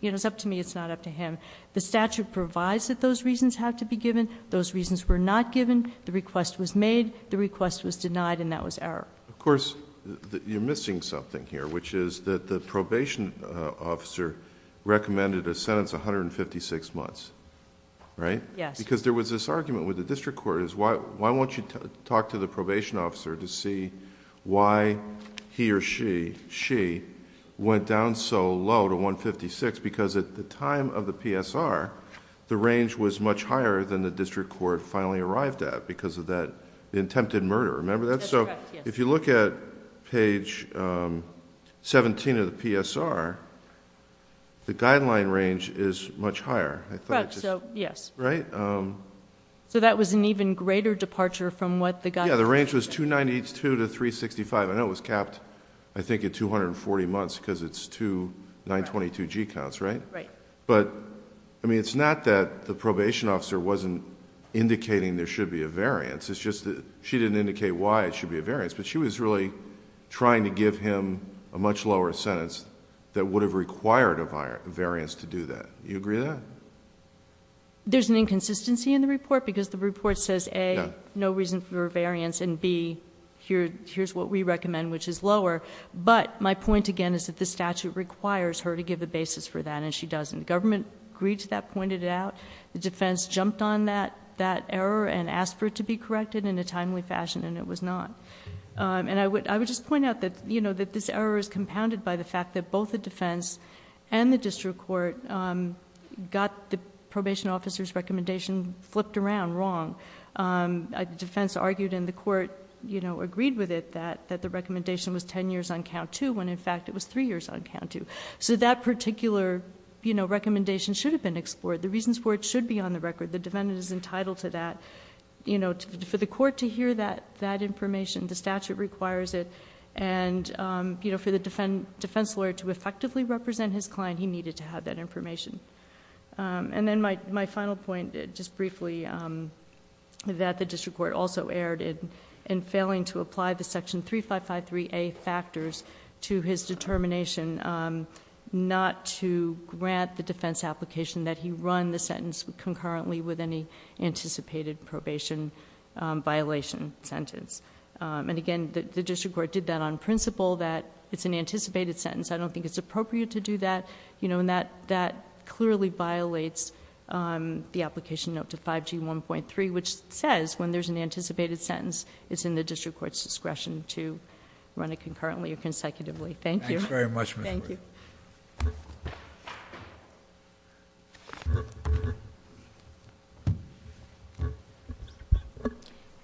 you know, it's up to me, it's not up to him. The statute provides that those reasons have to be given, those reasons were not given, the request was made, the request was denied, and that was error. Of course, you're missing something here, which is that the probation officer recommended a sentence of 156 months, right? Because there was this argument with the district court, why won't you talk to the probation officer to see why he or she went down so low to 156, because at the time of the PSR, the range was much higher than the district court finally arrived at, because of that attempted murder. Remember that? So if you look at page 17 of the PSR, the guideline range is much higher, right? So that was an even greater departure from what the guideline range was. Yeah, the range was 292 to 365, and it was capped, I think, at 240 months, because it's two 922G counts, right? Right. But, I mean, it's not that the probation officer wasn't indicating there should be a variance, it's just that she didn't indicate why it should be a variance for a sentence that would have required a variance to do that. Do you agree with that? There's an inconsistency in the report, because the report says, A, no reason for variance, and B, here's what we recommend, which is lower. But my point again is that this statute requires her to give a basis for that, and she doesn't. Government agreed to that, pointed it out. The defense jumped on that error and asked for it to be corrected in a timely manner. I find that this error is compounded by the fact that both the defense and the district court got the probation officer's recommendation flipped around wrong. The defense argued, and the court agreed with it, that the recommendation was ten years on count two, when in fact it was three years on count two. So that particular recommendation should have been explored. The reasons for it should be on the record. The defendant is entitled to that. For the court to hear that information, the statute requires it. And for the defense lawyer to effectively represent his client, he needed to have that information. And then my final point, just briefly, that the district court also erred in failing to apply the section 3553A factors to his determination not to grant the defense application that he run the sentence concurrently with any anticipated probation violation sentence. And again, the district court did that on principle, that it's an anticipated sentence. I don't think it's appropriate to do that. That clearly violates the application note to 5G1.3, which says when there's an anticipated sentence, it's in the district court's discretion to run it.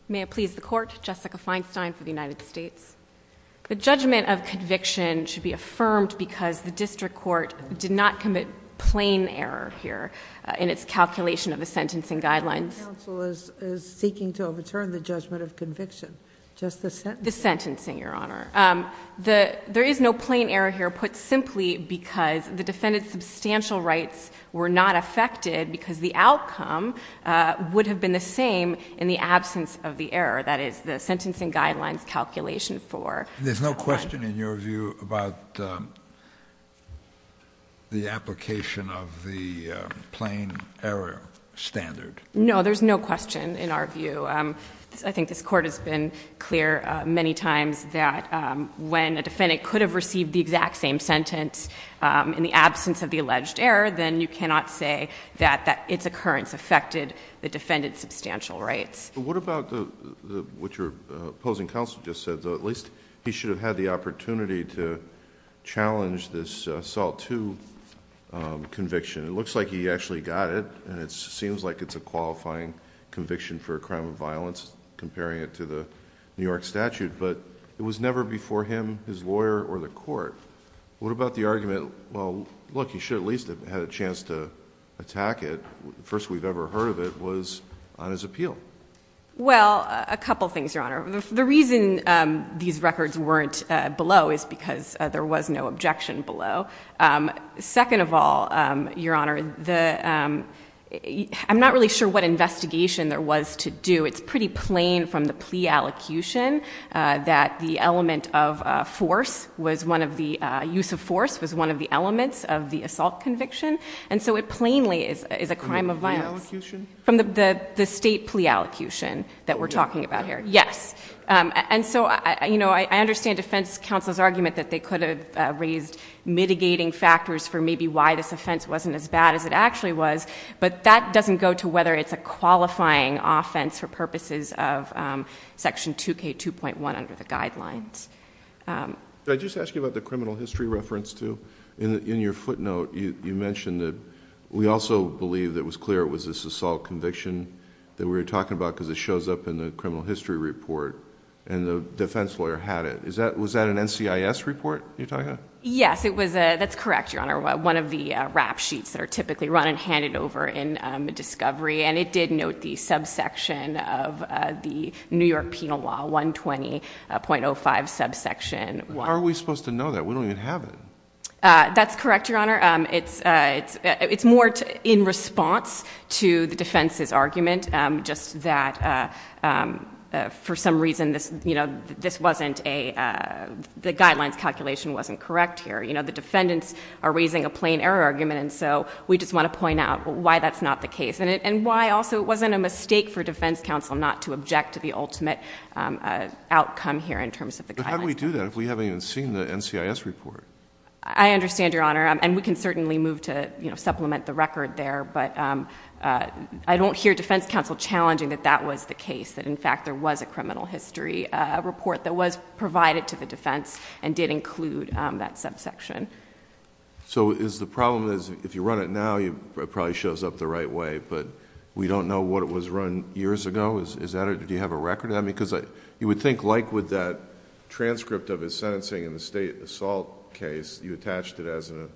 May it please the Court, Jessica Feinstein for the United States. The judgment of conviction should be affirmed because the district court did not commit plain error here in its calculation of the sentencing guidelines. The counsel is seeking to overturn the judgment of conviction, just the sentencing. There is no plain error here put simply because the defendant's substantial rights were not affected because the outcome would have been the same in the absence of the error, that is, the sentencing guidelines calculation for. There's no question in your view about the application of the plain error standard? No. There's no question in our view. I think this Court has been clear many times that when a defendant could have received the exact same sentence in the absence of the alleged error, then you cannot say that its occurrence affected the defendant's substantial rights. What about what your opposing counsel just said, though? At least he should have had the opportunity to have a qualifying conviction for a crime of violence, comparing it to the New York statute, but it was never before him, his lawyer, or the Court. What about the argument, well, look, he should have at least had a chance to attack it. The first we've ever heard of it was on his appeal. Well, a couple things, Your Honor. The reason these records weren't below is because there was no objection below. Second of all, Your Honor, I'm not really sure what investigation there was to do. It's pretty plain from the plea allocution that the use of force was one of the elements of the assault conviction, and so it plainly is a crime of violence. From the state plea allocation that we're talking about here. Yes. I understand defense counsel's argument that they could have raised mitigating factors for maybe why this offense wasn't as bad as it actually was, but that doesn't go to whether it's a qualifying offense for purposes of Section 2K2.1 under the guidelines. Did I just ask you about the criminal history reference, too? In your footnote, you mentioned that we also believe that it was clear it was this assault conviction that we were talking about because it shows up in the criminal history report and the defense lawyer had it. Was that an NCIS report you're talking about? Yes, that's correct, Your Honor. One of the rap sheets that are typically run and handed over in the discovery, and it did note the subsection of the New York Penal Law 120.05 subsection. How are we supposed to know that? We don't even have it. That's correct, Your Honor. It's more in response to the defense's argument, just that for some reason this wasn't a, the guidelines calculation wasn't correct here. The defendants are raising a plain error argument, and so we just want to point out why that's not the case and why also it wasn't a mistake for defense counsel not to object to the ultimate outcome here in terms of the guidelines. But how do we do that if we haven't even seen the NCIS report? I understand, Your Honor, and we can certainly move to supplement the record there, but I don't hear defense counsel challenging that that was the case, that in fact there was a criminal history report that was provided to the defense and did include that subsection. So is the problem is if you run it now, it probably shows up the right way, but we don't know what it was run years ago? Is that it? Do you have a record on it? Because you would think like with that transcript of his sentencing in the state assault case, you attached it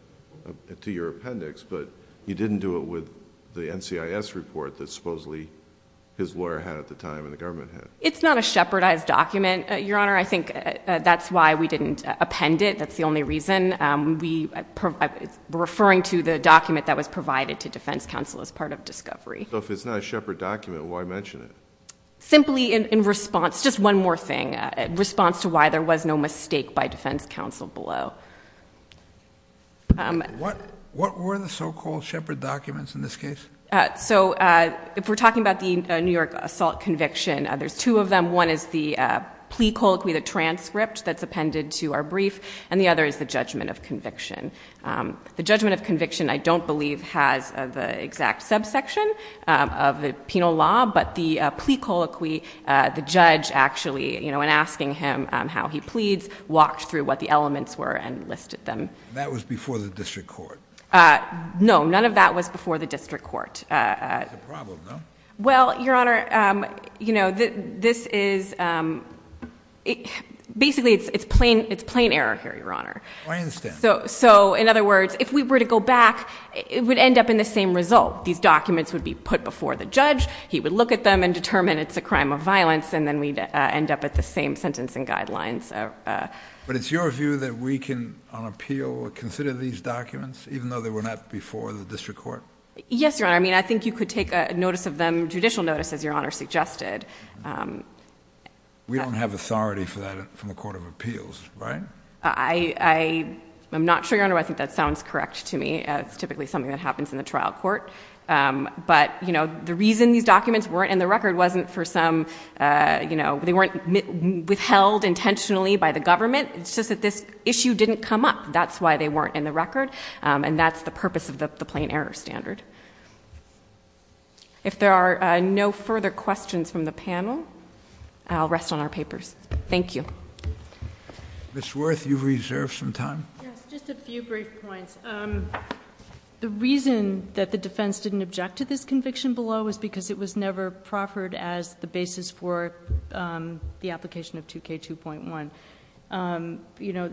to your appendix, but you didn't do it with the NCIS report that supposedly his lawyer had at the time and the government had. It's not a shepherdized document, Your Honor. I think that's why we didn't append it. That's the only reason. We're referring to the document that was provided to defense counsel as part of discovery. So if it's not a shepherd document, why mention it? Simply in response. Just one more thing. In response to why there was no mistake by defense counsel below. What were the so-called shepherd documents in this case? So if we're talking about the New York assault conviction, there's two of them. One is the plea colloquy, the transcript that's appended to our brief, and the other is the judgment of conviction. The judgment of conviction, I don't believe, has the exact subsection of the penal law, but the plea colloquy, the judge actually, when asking him how he pleads, walked through what the elements were and listed them. That was before the district court? No, none of that was before the district court. It's a problem, no? Well, Your Honor, basically it's plain error here, Your Honor. I understand. So in other words, if we were to go back, it would end up in the same result. These documents would be put before the judge, he would look at them and determine it's a crime of violence, and then we'd end up at the same sentencing guidelines. But it's your view that we can, on appeal, consider these documents, even though they were not before the district court? Yes, Your Honor. I mean, I think you could take a notice of them, judicial notice, as Your Honor suggested. We don't have authority for that from the Court of Appeals, right? I'm not sure, Your Honor. I think that sounds correct to me. It's typically something that happens in the trial court. But the reason these documents weren't in the record wasn't for some, you know, they weren't withheld intentionally by the government. It's just that this issue didn't come up. That's why they weren't in the record. And that's the purpose of the plain error standard. If there are no further questions from the panel, I'll rest on our papers. Thank you. Ms. Worth, you've reserved some time. Just a few brief points. The reason that the defense didn't object to this conviction below is because it was never proffered as the basis for the application of 2K2.1. You know,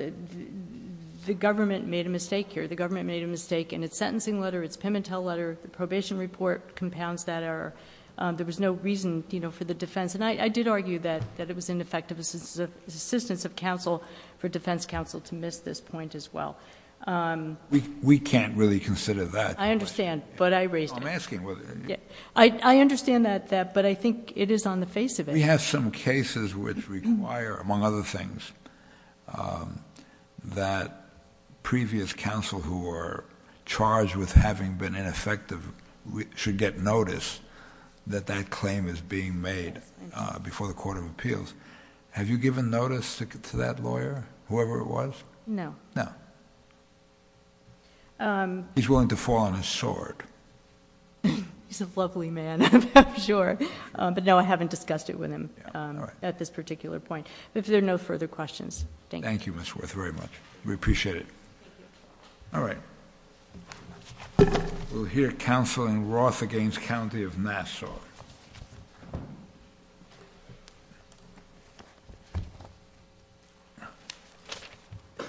the government made a mistake here. The government made a mistake in its sentencing letter, its payment tell letter, the probation report compounds that error. There was no reason, you know, for the defense. And I did argue that it was ineffective assistance of counsel for defense counsel to miss this point as well. We can't really consider that. I understand. I understand that, but I think it is on the face of it. We have some cases which require, among other things, that previous counsel who were charged with having been ineffective should get notice that that claim is being made before the court of appeals. Have you given notice to that lawyer, whoever it was? No. He's willing to fall on his sword. He's a lovely man, I'm sure. But no, I haven't discussed it with him at this particular point. If there are no further questions, thank you. Thank you, Ms. Worth, very much. We appreciate it. All right. We'll hear counsel in Roth against the County of Nashua. Good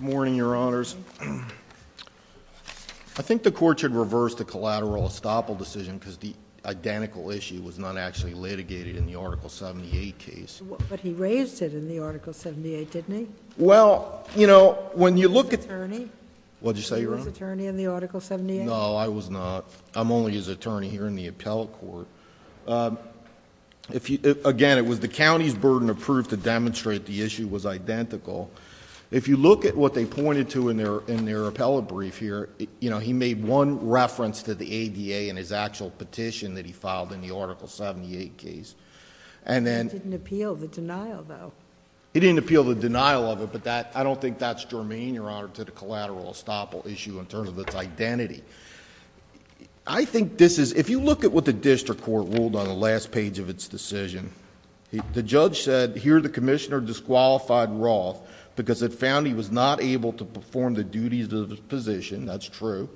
morning, Your Honors. I think the Court should reverse the collateral estoppel decision because the identical issue was not actually litigated in the Article 78 case. But he raised it in the Article 78, didn't he? Well, you know, when you look at the... Attorney. What did you say, Your Honor? Attorney in the Article 78? No, I was not. I'm only his attorney here in the appellate court. Again, it was the county's burden of proof to demonstrate the issue was identical. If you look at what they pointed to in their appellate brief here, he made one reference to the ADA in his actual petition that he filed in the Article 78 case. He didn't appeal the denial, though. He didn't appeal the denial of it, but I don't think that's germane, Your Honor, to the collateral estoppel issue in terms of its identity. I think this is... If you look at what the district court ruled on the last page of its decision, the judge said here the commissioner disqualified Roth because it found he was not able to perform the duties of his position. That's true.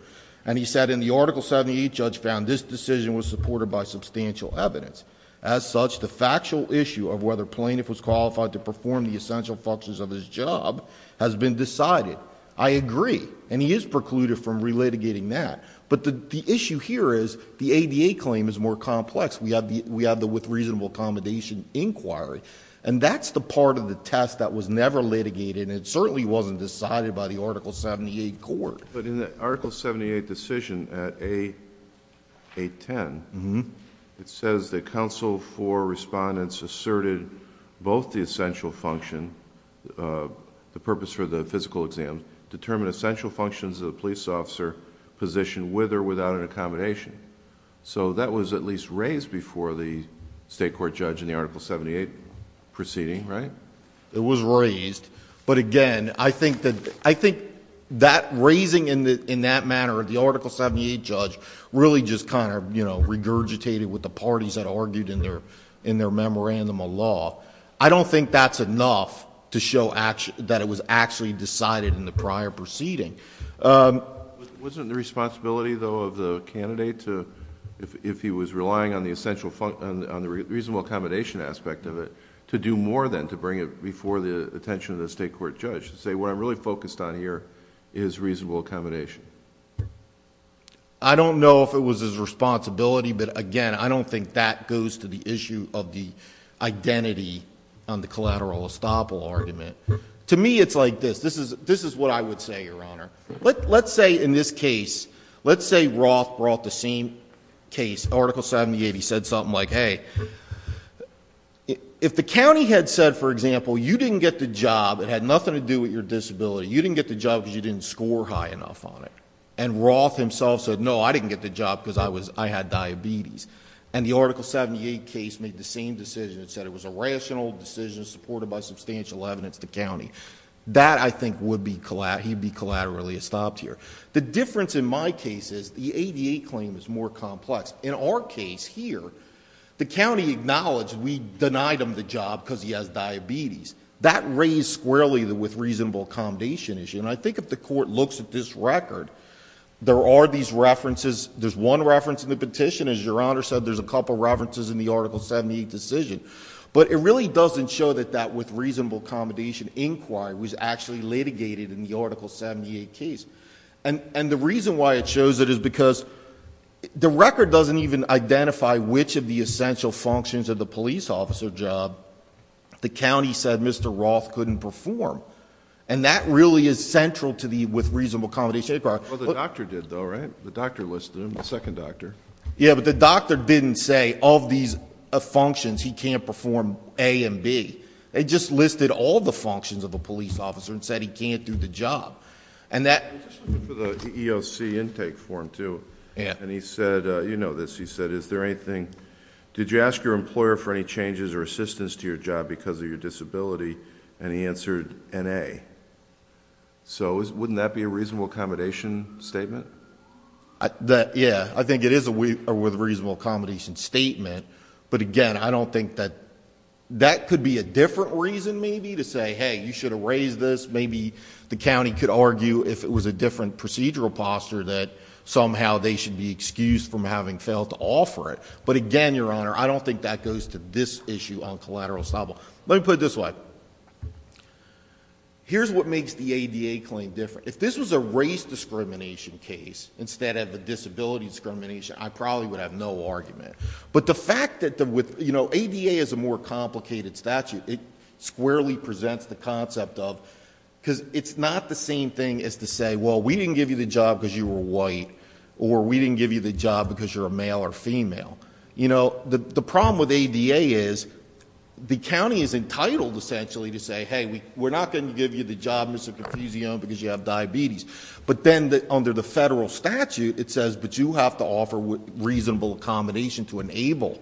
And he said in the Article 78 judge found this decision was supported by substantial evidence. As such, the factual issue of whether plaintiff was qualified to perform the essential functions of his job has been decided. I agree. And he is precluded from relitigating that. But the issue here is the ADA claim is more complex. We have the with reasonable accommodation inquiry. And that's the part of the test that was never litigated and certainly wasn't decided by the Article 78 court. But in the Article 78 decision at 810, it says the counsel for respondents asserted both the essential function, the purpose for the physical exam, determined essential functions of the police officer position with or without an accommodation. So that was at least raised before the state court judge in the Article 78 proceeding, right? It was raised. But again, I think that raising in that manner of the Article 78 judge really just kind of regurgitated with the parties that argued in their memorandum of law. I don't think that's enough to show that it was actually decided in the prior proceeding. Wasn't the responsibility, though, of the candidate to, if he was relying on the reasonable accommodation aspect of it, to do more than to bring it before the attention of the state court judge to say what I'm really focused on here is reasonable accommodation? I don't know if it was his responsibility. But again, I don't think that goes to the issue of the identity on the collateral estoppel argument. To me, it's like this. This is what I would say, Your Honor. Let's say in this case, let's say Roth brought the same case, Article 78. He said something like, hey, if the county had said, for example, you didn't get the job, it had nothing to do with your disability. You didn't get the job because you didn't score high enough on it. And Roth himself said, no, I didn't get the job because I had diabetes. And the Article 78 case made the same decision. It said it was a rational decision supported by substantial evidence to county. That, I think, would be collaterally estopped here. The difference in my case is the ADA claim is more complex. In our case here, the county acknowledged we denied him the job because he has diabetes. That raised squarely the with reasonable accommodation issue. And I think if the court looks at this record, there are these references. There's one reference in the petition. As Your Honor said, there's a couple references in the Article 78 decision. But it really doesn't show that that with reasonable accommodation inquiry was actually litigated in the Article 78 case. And the reason why it shows it is because the record doesn't even identify which of the essential functions of the police officer job the county said Mr. Roth couldn't perform. And that really is central to the with reasonable accommodation inquiry. Well, the doctor did, though, right? The doctor listed him, the second doctor. Yeah, but the doctor didn't say all these functions he can't perform A and B. They just listed all the functions of a police officer and said he can't do the job. And that was for the EOC intake form, too. And he said, you know this, he said, is there anything, did you ask your employer for any changes or assistance to your job because of your So wouldn't that be a reasonable accommodation statement? Yeah, I think it is a with reasonable accommodation statement. But again, I don't think that that could be a different reason maybe to say, hey, you should have raised this. Maybe the county could argue if it was a different procedural posture that somehow they should be excused from having failed to offer it. But again, Your Honor, I don't think that goes to this issue on collateral establishment. Let me put it this way. Here's what makes the ADA claim different. If this was a race discrimination case instead of a disability discrimination, I probably would have no argument. But the fact that the ADA is a more complicated statute, it squarely presents the concept of because it's not the same thing as to say, well, we didn't give you the job because you were white or we didn't give you the job because you're a male or female. You know, the problem with ADA is the county is entitled essentially to say, hey, we're not going to give you the job because you have diabetes. But then under the federal statute, it says that you have to offer reasonable accommodation to enable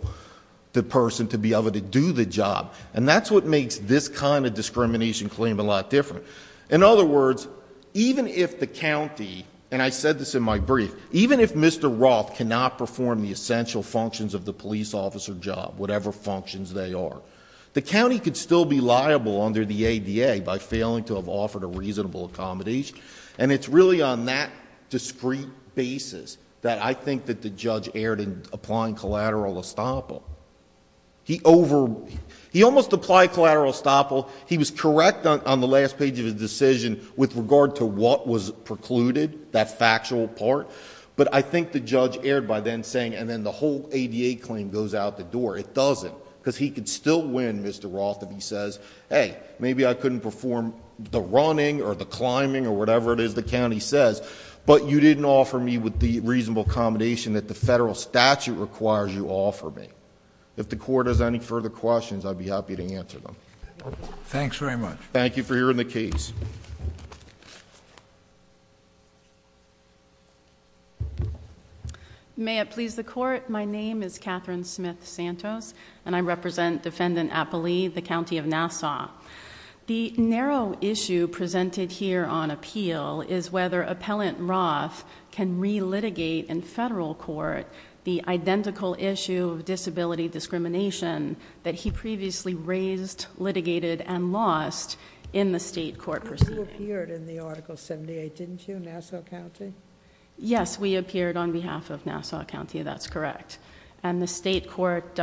the person to be able to do the job. And that's what makes this kind of discrimination claim a lot even if Mr. Roth cannot perform the essential functions of the police officer job, whatever functions they are. The county could still be liable under the ADA by failing to have offered a reasonable accommodation. And it's really on that discrete basis that I think that the judge erred in applying collateral estoppel. He almost applied collateral estoppel. He was correct on the last page of the decision with regard to what was precluded, that factual part. But I think the judge erred by then saying, and then the whole ADA claim goes out the door. It doesn't, because he could still win, Mr. Roth, if he says, hey, maybe I couldn't perform the running or the climbing or whatever it is the county says, but you didn't offer me with the reasonable accommodation that the federal statute requires you offer me. If the court has any further questions, I'd be happy to answer them. Thanks very much. Thank you for hearing the case. May it please the court, my name is Catherine Smith-Santos, and I represent Defendant Appali, the county of Nassau. The narrow issue presented here on appeal is whether there was disability discrimination that he previously raised, litigated, and lost in the state court proceedings. You appeared in the article 78, didn't you, Nassau County? Yes, we appeared on behalf of Nassau County, that's correct. And the state court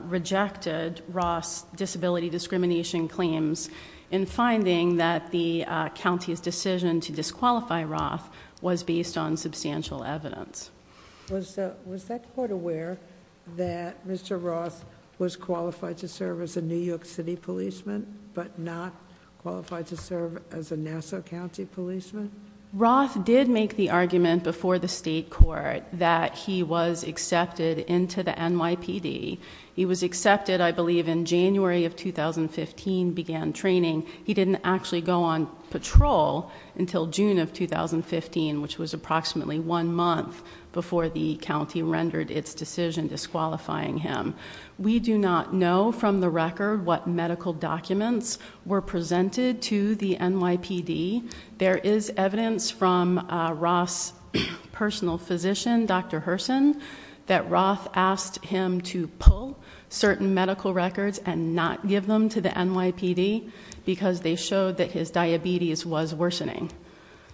rejected Roth's disability discrimination claims in finding that the county's decision to disqualify Roth was based on whether Roth was qualified to serve as a New York City policeman, but not qualified to serve as a Nassau County policeman? Roth did make the argument before the state court that he was accepted into the NYPD. He was accepted, I believe, in January of 2015, began training. He didn't actually go on patrol until June of 2015, which was June of 2015. We do not know from the record what medical documents were presented to the NYPD. There is evidence from Roth's personal physician, Dr. Herson, that Roth asked him to pull certain medical records and not give them to the NYPD because they showed that his diabetes was worsening.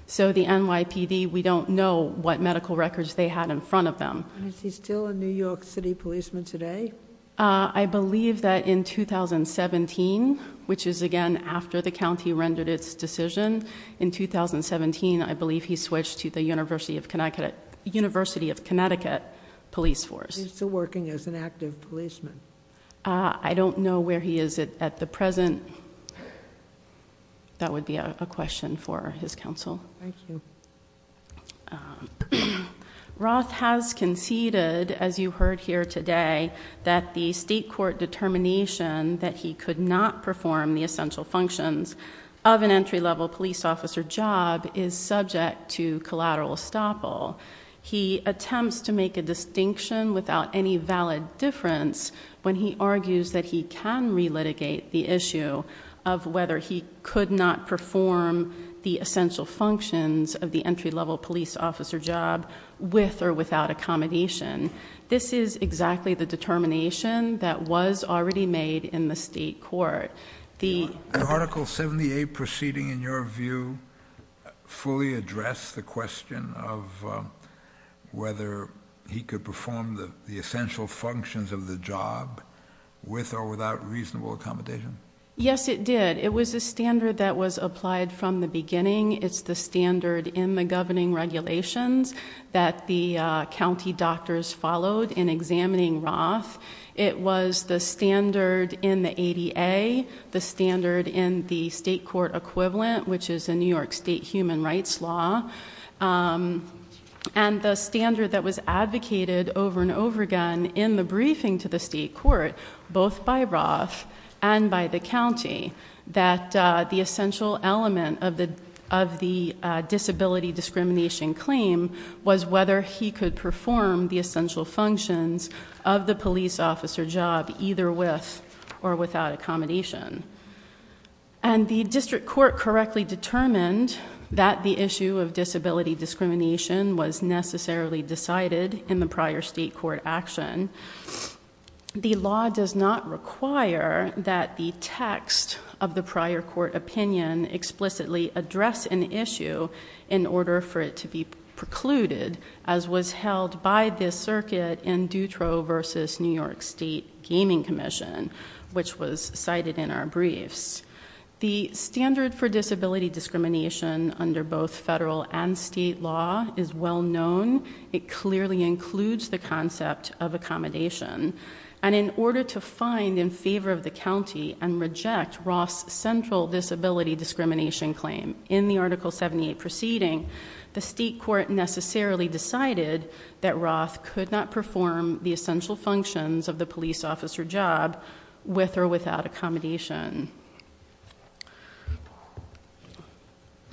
So the NYPD, we don't know what medical records they had in front of them. Is he still a New York City policeman today? I believe that in 2017, which is again after the county rendered its decision, in 2017, I believe he switched to the University of Connecticut police force. Is he still working as an active policeman? I don't know where he is at the present. That would be a question for his counsel. Roth has conceded, as you heard here today, that the state court determination that he could not perform the essential functions of an entry-level police officer job is subject to collateral estoppel. He attempts to make a distinction without any valid difference when he argues that he can relitigate the issue of whether he could not perform the essential functions of the entry-level police officer job with or without accommodation. This is exactly the determination that was already made in the state court. Did Article 78 proceeding, in your view, fully address the question of whether he could perform the essential functions of the job with or without reasonable accommodation? Yes, it did. It was the standard that was applied from the beginning. It's the standard in the governing regulations that the county doctors followed in examining Roth. It was the standard in the ADA, the standard in the state court equivalent, which is the New York State Human Rights Law, and the standard that was advocated over and over again in the briefing to the state court, both by Roth and by the county, that the essential element of the disability discrimination claim was whether he could perform the essential functions of the police officer job either with or without accommodation. And the district court correctly determined that the issue of disability discrimination was necessarily decided in the prior state court action. The law does not require that the disability discrimination claim should be rejected, however, in order for it to be precluded, as was held by this circuit in Dutro versus New York State Gaming Commission, which was cited in our briefs. The standard for disability discrimination under both federal and state law is well known. It clearly includes the concept of accommodation. And in order to find in favor of the county and reject Roth's central disability discrimination claim in the Article 78 proceeding, the state court necessarily decided that Roth could not perform the essential functions of the police officer job with or without accommodation.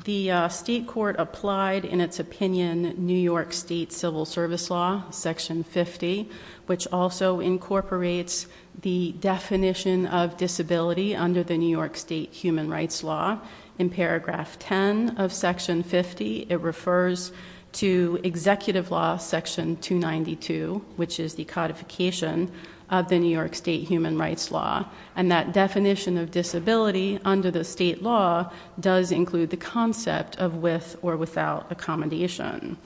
The state court applied in its opinion New York State Civil Service Law, Section 50, which also incorporates the definition of disability under the New York State Human Rights Law. In Paragraph 10 of Section 50, it refers to Executive Law Section 292, which is the codification of the New York State Human Rights Law. And that definition of disability under the state law does include the concept of with or without accommodation.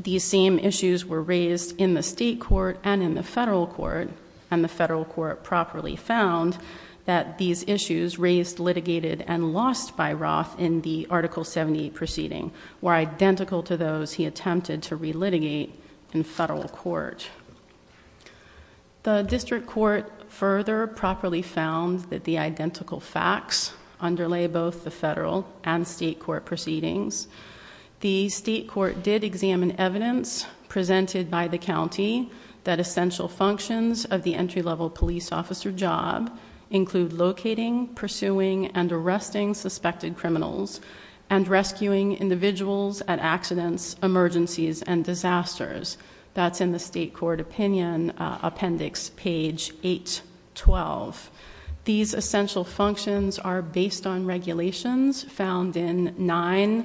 These same issues were raised in the state court and in the federal court, and the federal court properly found that these issues raised, litigated, and lost by Roth in the Article 78 proceeding were identical to those he attempted to relitigate in federal court. The district court further properly found that the identical facts underlay both the federal and state court proceedings. The state court did examine evidence presented by the county that essential functions of the entry-level police officer job include locating, pursuing, and arresting suspected criminals and rescuing individuals at accidents, emergencies, and disasters. That's in the State Court Opinion Appendix, page 812. These essential functions are based on regulations found in 9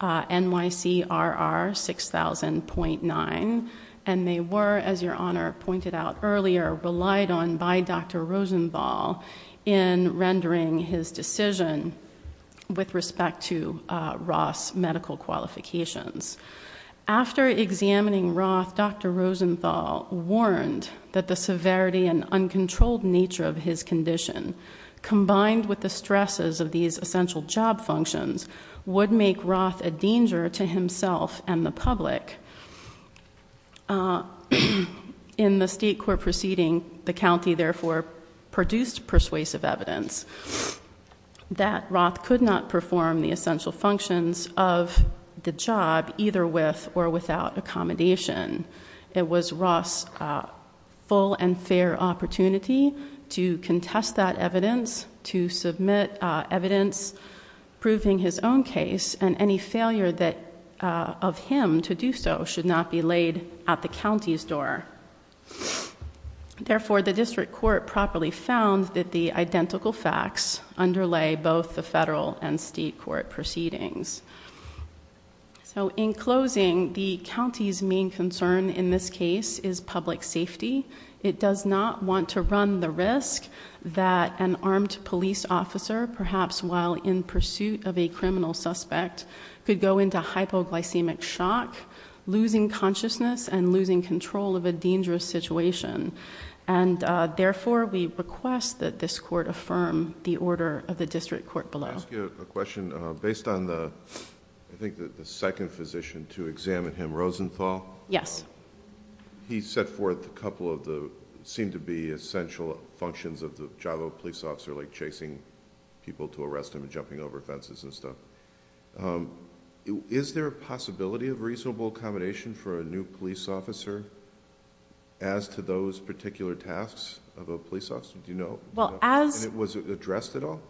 NYC RR 6000.9, and they were, as Your Honor pointed out earlier, relied on by Dr. Rosenball in rendering his decision with respect to Roth's medical qualifications. After examining Roth, Dr. Rosenball warned that the severity and uncontrolled nature of his condition, combined with the stresses of these essential job functions, would make Roth a danger to himself and the public. In the state court proceeding, the county therefore produced persuasive evidence that Roth could not perform the essential functions of the job, either with or without accommodation. It was Roth's full and fair opportunity to contest that evidence, to submit evidence proving his own case, and any failure of him to do so should not be admitted at the county's door. Therefore, the district court properly found that the identical facts underlay both the federal and state court proceedings. In closing, the county's main concern in this case is public safety. It does not want to run the risk that an armed police officer, perhaps while in pursuit of a criminal suspect, could go into hypoglycemic shock, losing consciousness, and losing control of a dangerous situation. Therefore, we request that this court affirm the order of the district court below. Based on the second physician to examine him, Rosenball, he set forth a couple of what seemed to be essential functions of the job. Is there a possibility of reasonable accommodation for a new police officer as to those particular tasks of a police officer? Was it addressed at all?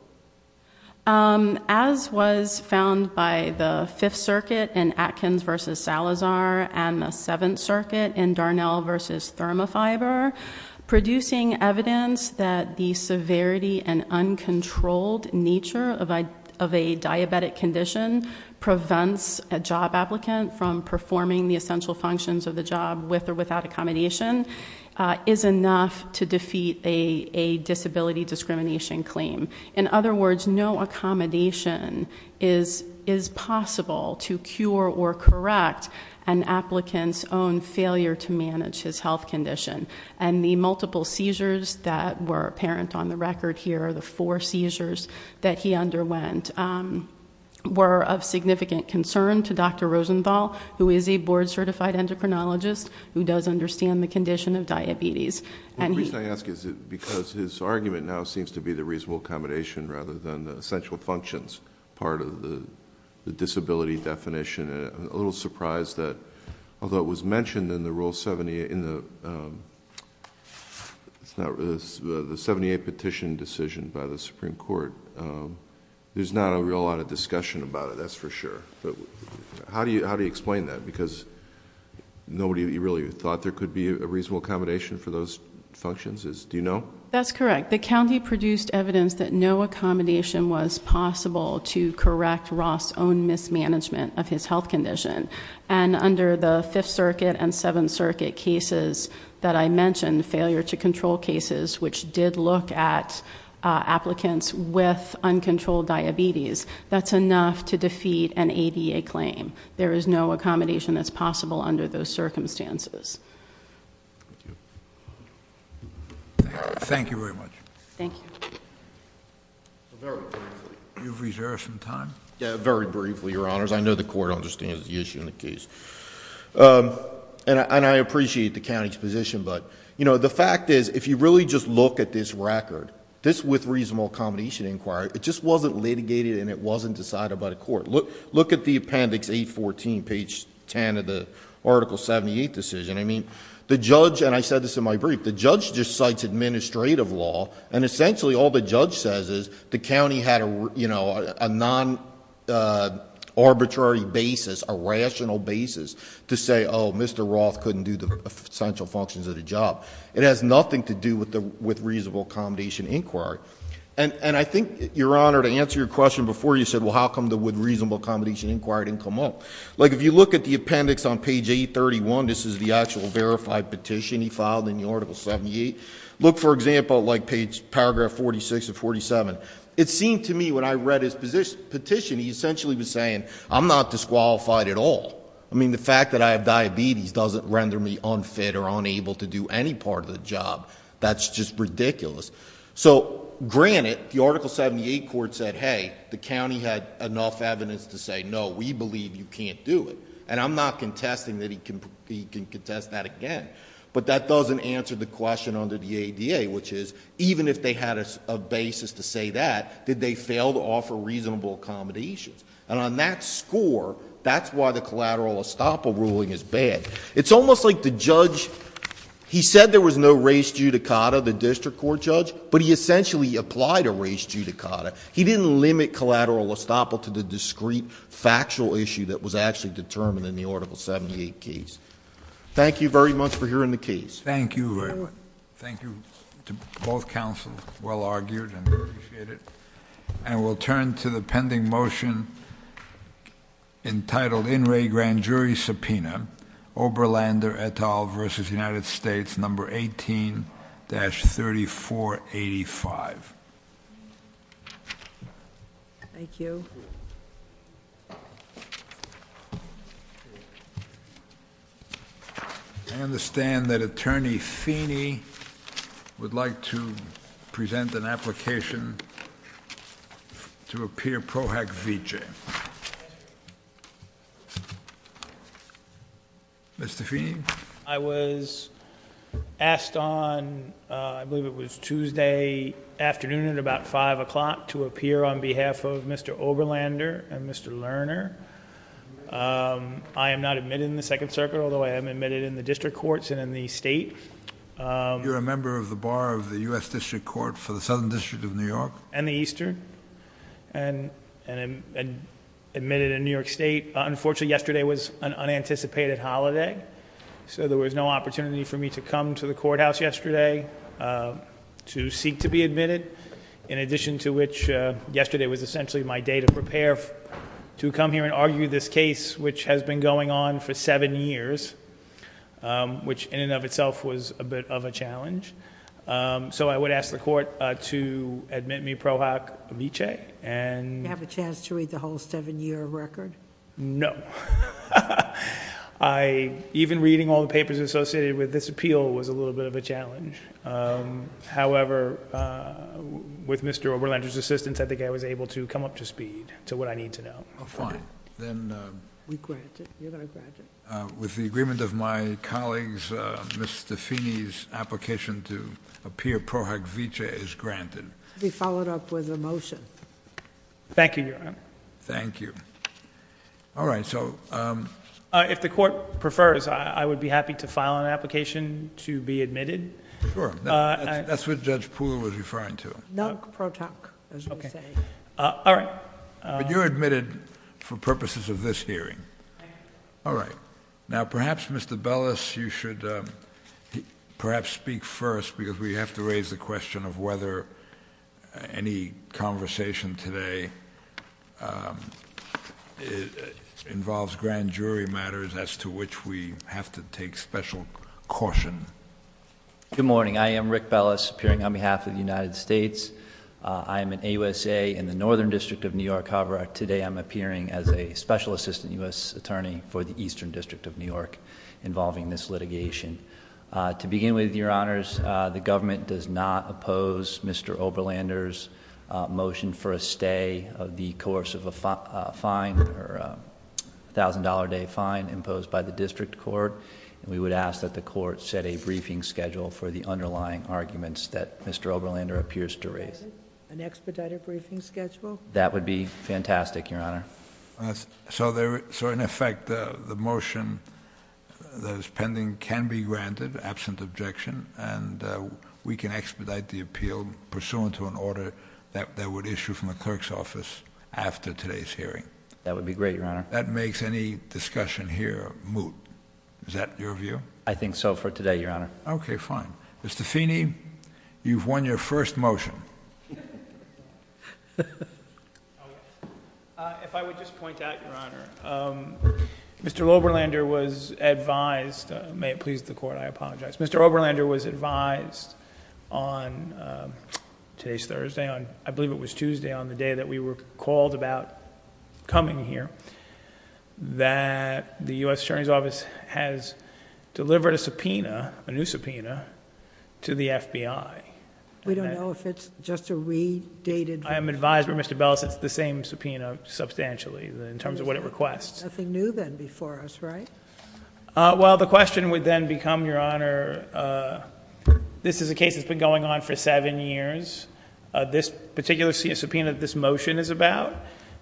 As was found by the Fifth Circuit in Atkins v. Salazar and the Seventh Circuit in Darnell v. ThermoFiber, producing evidence that the severity and uncontrolled nature of a diabetic condition prevents a job applicant from performing the essential functions of the job with or without accommodation is enough to defeat a disability discrimination claim. In other words, no accommodation is possible to cure or correct an applicant's own failure to manage his health condition. And the multiple seizures that were apparent on the record here are the four seizures that he underwent were of significant concern to Dr. Rosenball, who is a board-certified endocrinologist who does understand the condition of diabetes. The reason I ask is because his argument now seems to be the reasonable accommodation rather than the essential functions part of the disability definition. I'm a little surprised that although it was mentioned in the 78 petition decision by the Supreme Court, there's not a real lot of discussion about it, that's for sure. How do you explain that? Because nobody really thought there could be a reasonable accommodation for those functions. Do you know? That's correct. The county produced evidence that no accommodation was possible to correct Ross's own mismanagement of his health condition. And under the Fifth Circuit and Seventh Circuit cases that I mentioned, failure to control cases, which did look at applicants with uncontrolled diabetes, that's enough to defeat an ADA claim. There is no accommodation that's possible under those circumstances. Thank you very much. Very briefly, Your Honors. I know the court understands the issue in the case. And I appreciate the county's position, but the fact is, if you really just look at this record, this with reasonable accommodation inquiry, it just wasn't litigated and it wasn't an article 78 decision. I mean, the judge, and I said this in my brief, the judge just cites administrative law, and essentially all the judge says is the county had a non-arbitrary basis, a rational basis, to say, oh, Mr. Roth couldn't do the essential functions of the job. It has nothing to do with reasonable accommodation inquiry. And I think, Your Honor, to answer your question before, you said, well, how come the with reasonable accommodation inquiry didn't come up? Like, if you look at the appendix on page 831, this is the actual verified petition he filed in the article 78. Look, for example, like paragraph 46 or 47. It seemed to me when I read his petition, he essentially was saying, I'm not disqualified at all. I mean, the fact that I have diabetes doesn't render me unfit or unable to do any part of the job. That's just ridiculous. So, granted, the article 78 court said, hey, the county had enough evidence to say, no, we believe you can't do it. And I'm not contesting that he can contest that again. But that doesn't answer the question under the ADA, which is, even if they had a basis to say that, did they fail to offer reasonable accommodations? And on that score, that's why the collateral estoppel ruling is bad. It's almost like the judge, he said there was no race judicata, the district court judge, but he essentially applied a race judicata. He didn't limit collateral estoppel to the discrete factual issue that was actually determined in the article 78 case. Thank you very much for hearing the case. Thank you. Thank you to both counsels. Well argued and very appreciated. And we'll turn to the pending motion entitled In Re Grand Jury Subpoena, Oberlander et al. v. United States, No. 18-3485. Thank you. I understand that Attorney Feeney would like to present an application to appear Pro Hac Vici. Mr. Feeney? I was asked on, I believe it was Tuesday afternoon at about 5 o'clock, to appear on behalf of Mr. Oberlander and Mr. Lerner. I am not admitted in the Second Circuit, although I am admitted in the district courts and in the states. You're a member of the bar of the U.S. District Court for the Southern District of New York? And the Eastern, and admitted in New York State. Unfortunately, yesterday was an unanticipated holiday, so there was no opportunity for me to come to the courthouse yesterday to seek to be admitted, in addition to which yesterday was essentially my day to prepare to come here and argue this case, which has been going on for seven years, which in and of itself was a bit of a challenge. So I would ask the Court to admit me Pro Hac Vici. Do you have a chance to read the whole seven-year record? No. Even reading all the papers associated with this appeal was a little bit of a challenge. However, with Mr. Oberlander's assistance, I think I was able to come up to speed to what I need to know. Fine. With the agreement of my colleagues, Mr. Feeney's application to appear Pro Hac Vici is granted. It will be followed up with a motion. Thank you, Your Honor. If the Court prefers, I would be happy to file an application to be admitted for purposes of this hearing. All right. Now, perhaps, Mr. Bellis, you should perhaps speak first, because we have to raise the question of whether any conversation today involves grand jury matters as to which we have to take special caution. Good morning. I am Rick Bellis, appearing on behalf of the United States. I am an AUSA in the Northern District of New York. However, today I'm appearing as a Special Assistant U.S. Attorney for the Eastern District of New York involving this litigation. To begin with, Your Honors, the government does not oppose Mr. Oberlander's motion for a stay of the course of a fine, or an expedited briefing schedule. That would be fantastic, Your Honor. So, in effect, the motion that is pending can be granted, absent objection, and we can expedite the appeal pursuant to an order that would issue from the clerk's office after today's hearing. That would be great, Your Honor. That makes any discussion here moot. Is that your view? I think so for today, Your Honor. Okay, fine. Mr. Feeney, you've won your first motion. If I would just point out, Your Honor, Mr. Oberlander was advised May it please the Court, I apologize. Mr. Oberlander was advised on today's Thursday, I believe it was Tuesday, on the day that we were called about coming here, that the U.S. Attorney's Office has delivered a subpoena, a new subpoena, to the FBI. We don't know if it's just a redated subpoena. I am advised, Mr. Bell, that it's the same subpoena substantially in terms of what it requests. Nothing new then before us, right? Well, the question would then become, Your Honor, this is a case that's been going on for seven years. This particular subpoena that this motion is about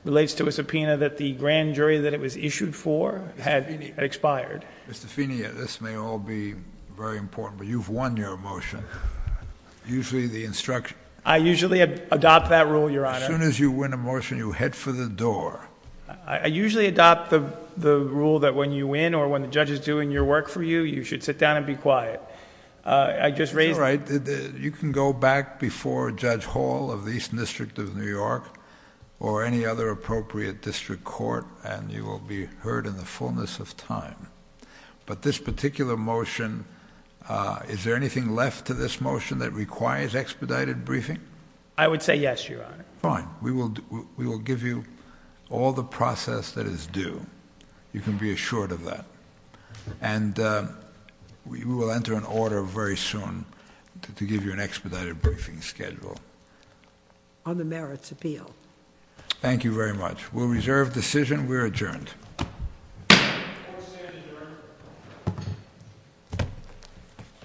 relates to a subpoena that the grand jury that it was issued for had expired. Mr. Feeney, this may all be very important, but you've won your motion. I usually adopt that rule, Your Honor. As soon as you win a motion, you head for the door. I usually adopt the rule that when you win or when the judge is doing your work for you, you should sit down and be quiet. All right. You can go back before Judge Hall of the Eastern District of New York or any other appropriate district court and you will be heard in the fullness of time. But this particular motion, is there anything left to this motion that requires expedited briefing? I would say yes, Your Honor. Fine. We will give you all the process that is due. You can be assured of that. And we will enter an order very soon to give you an expedited briefing schedule. On the merits appeal. Thank you very much. We'll reserve decision. We're adjourned. Court is adjourned.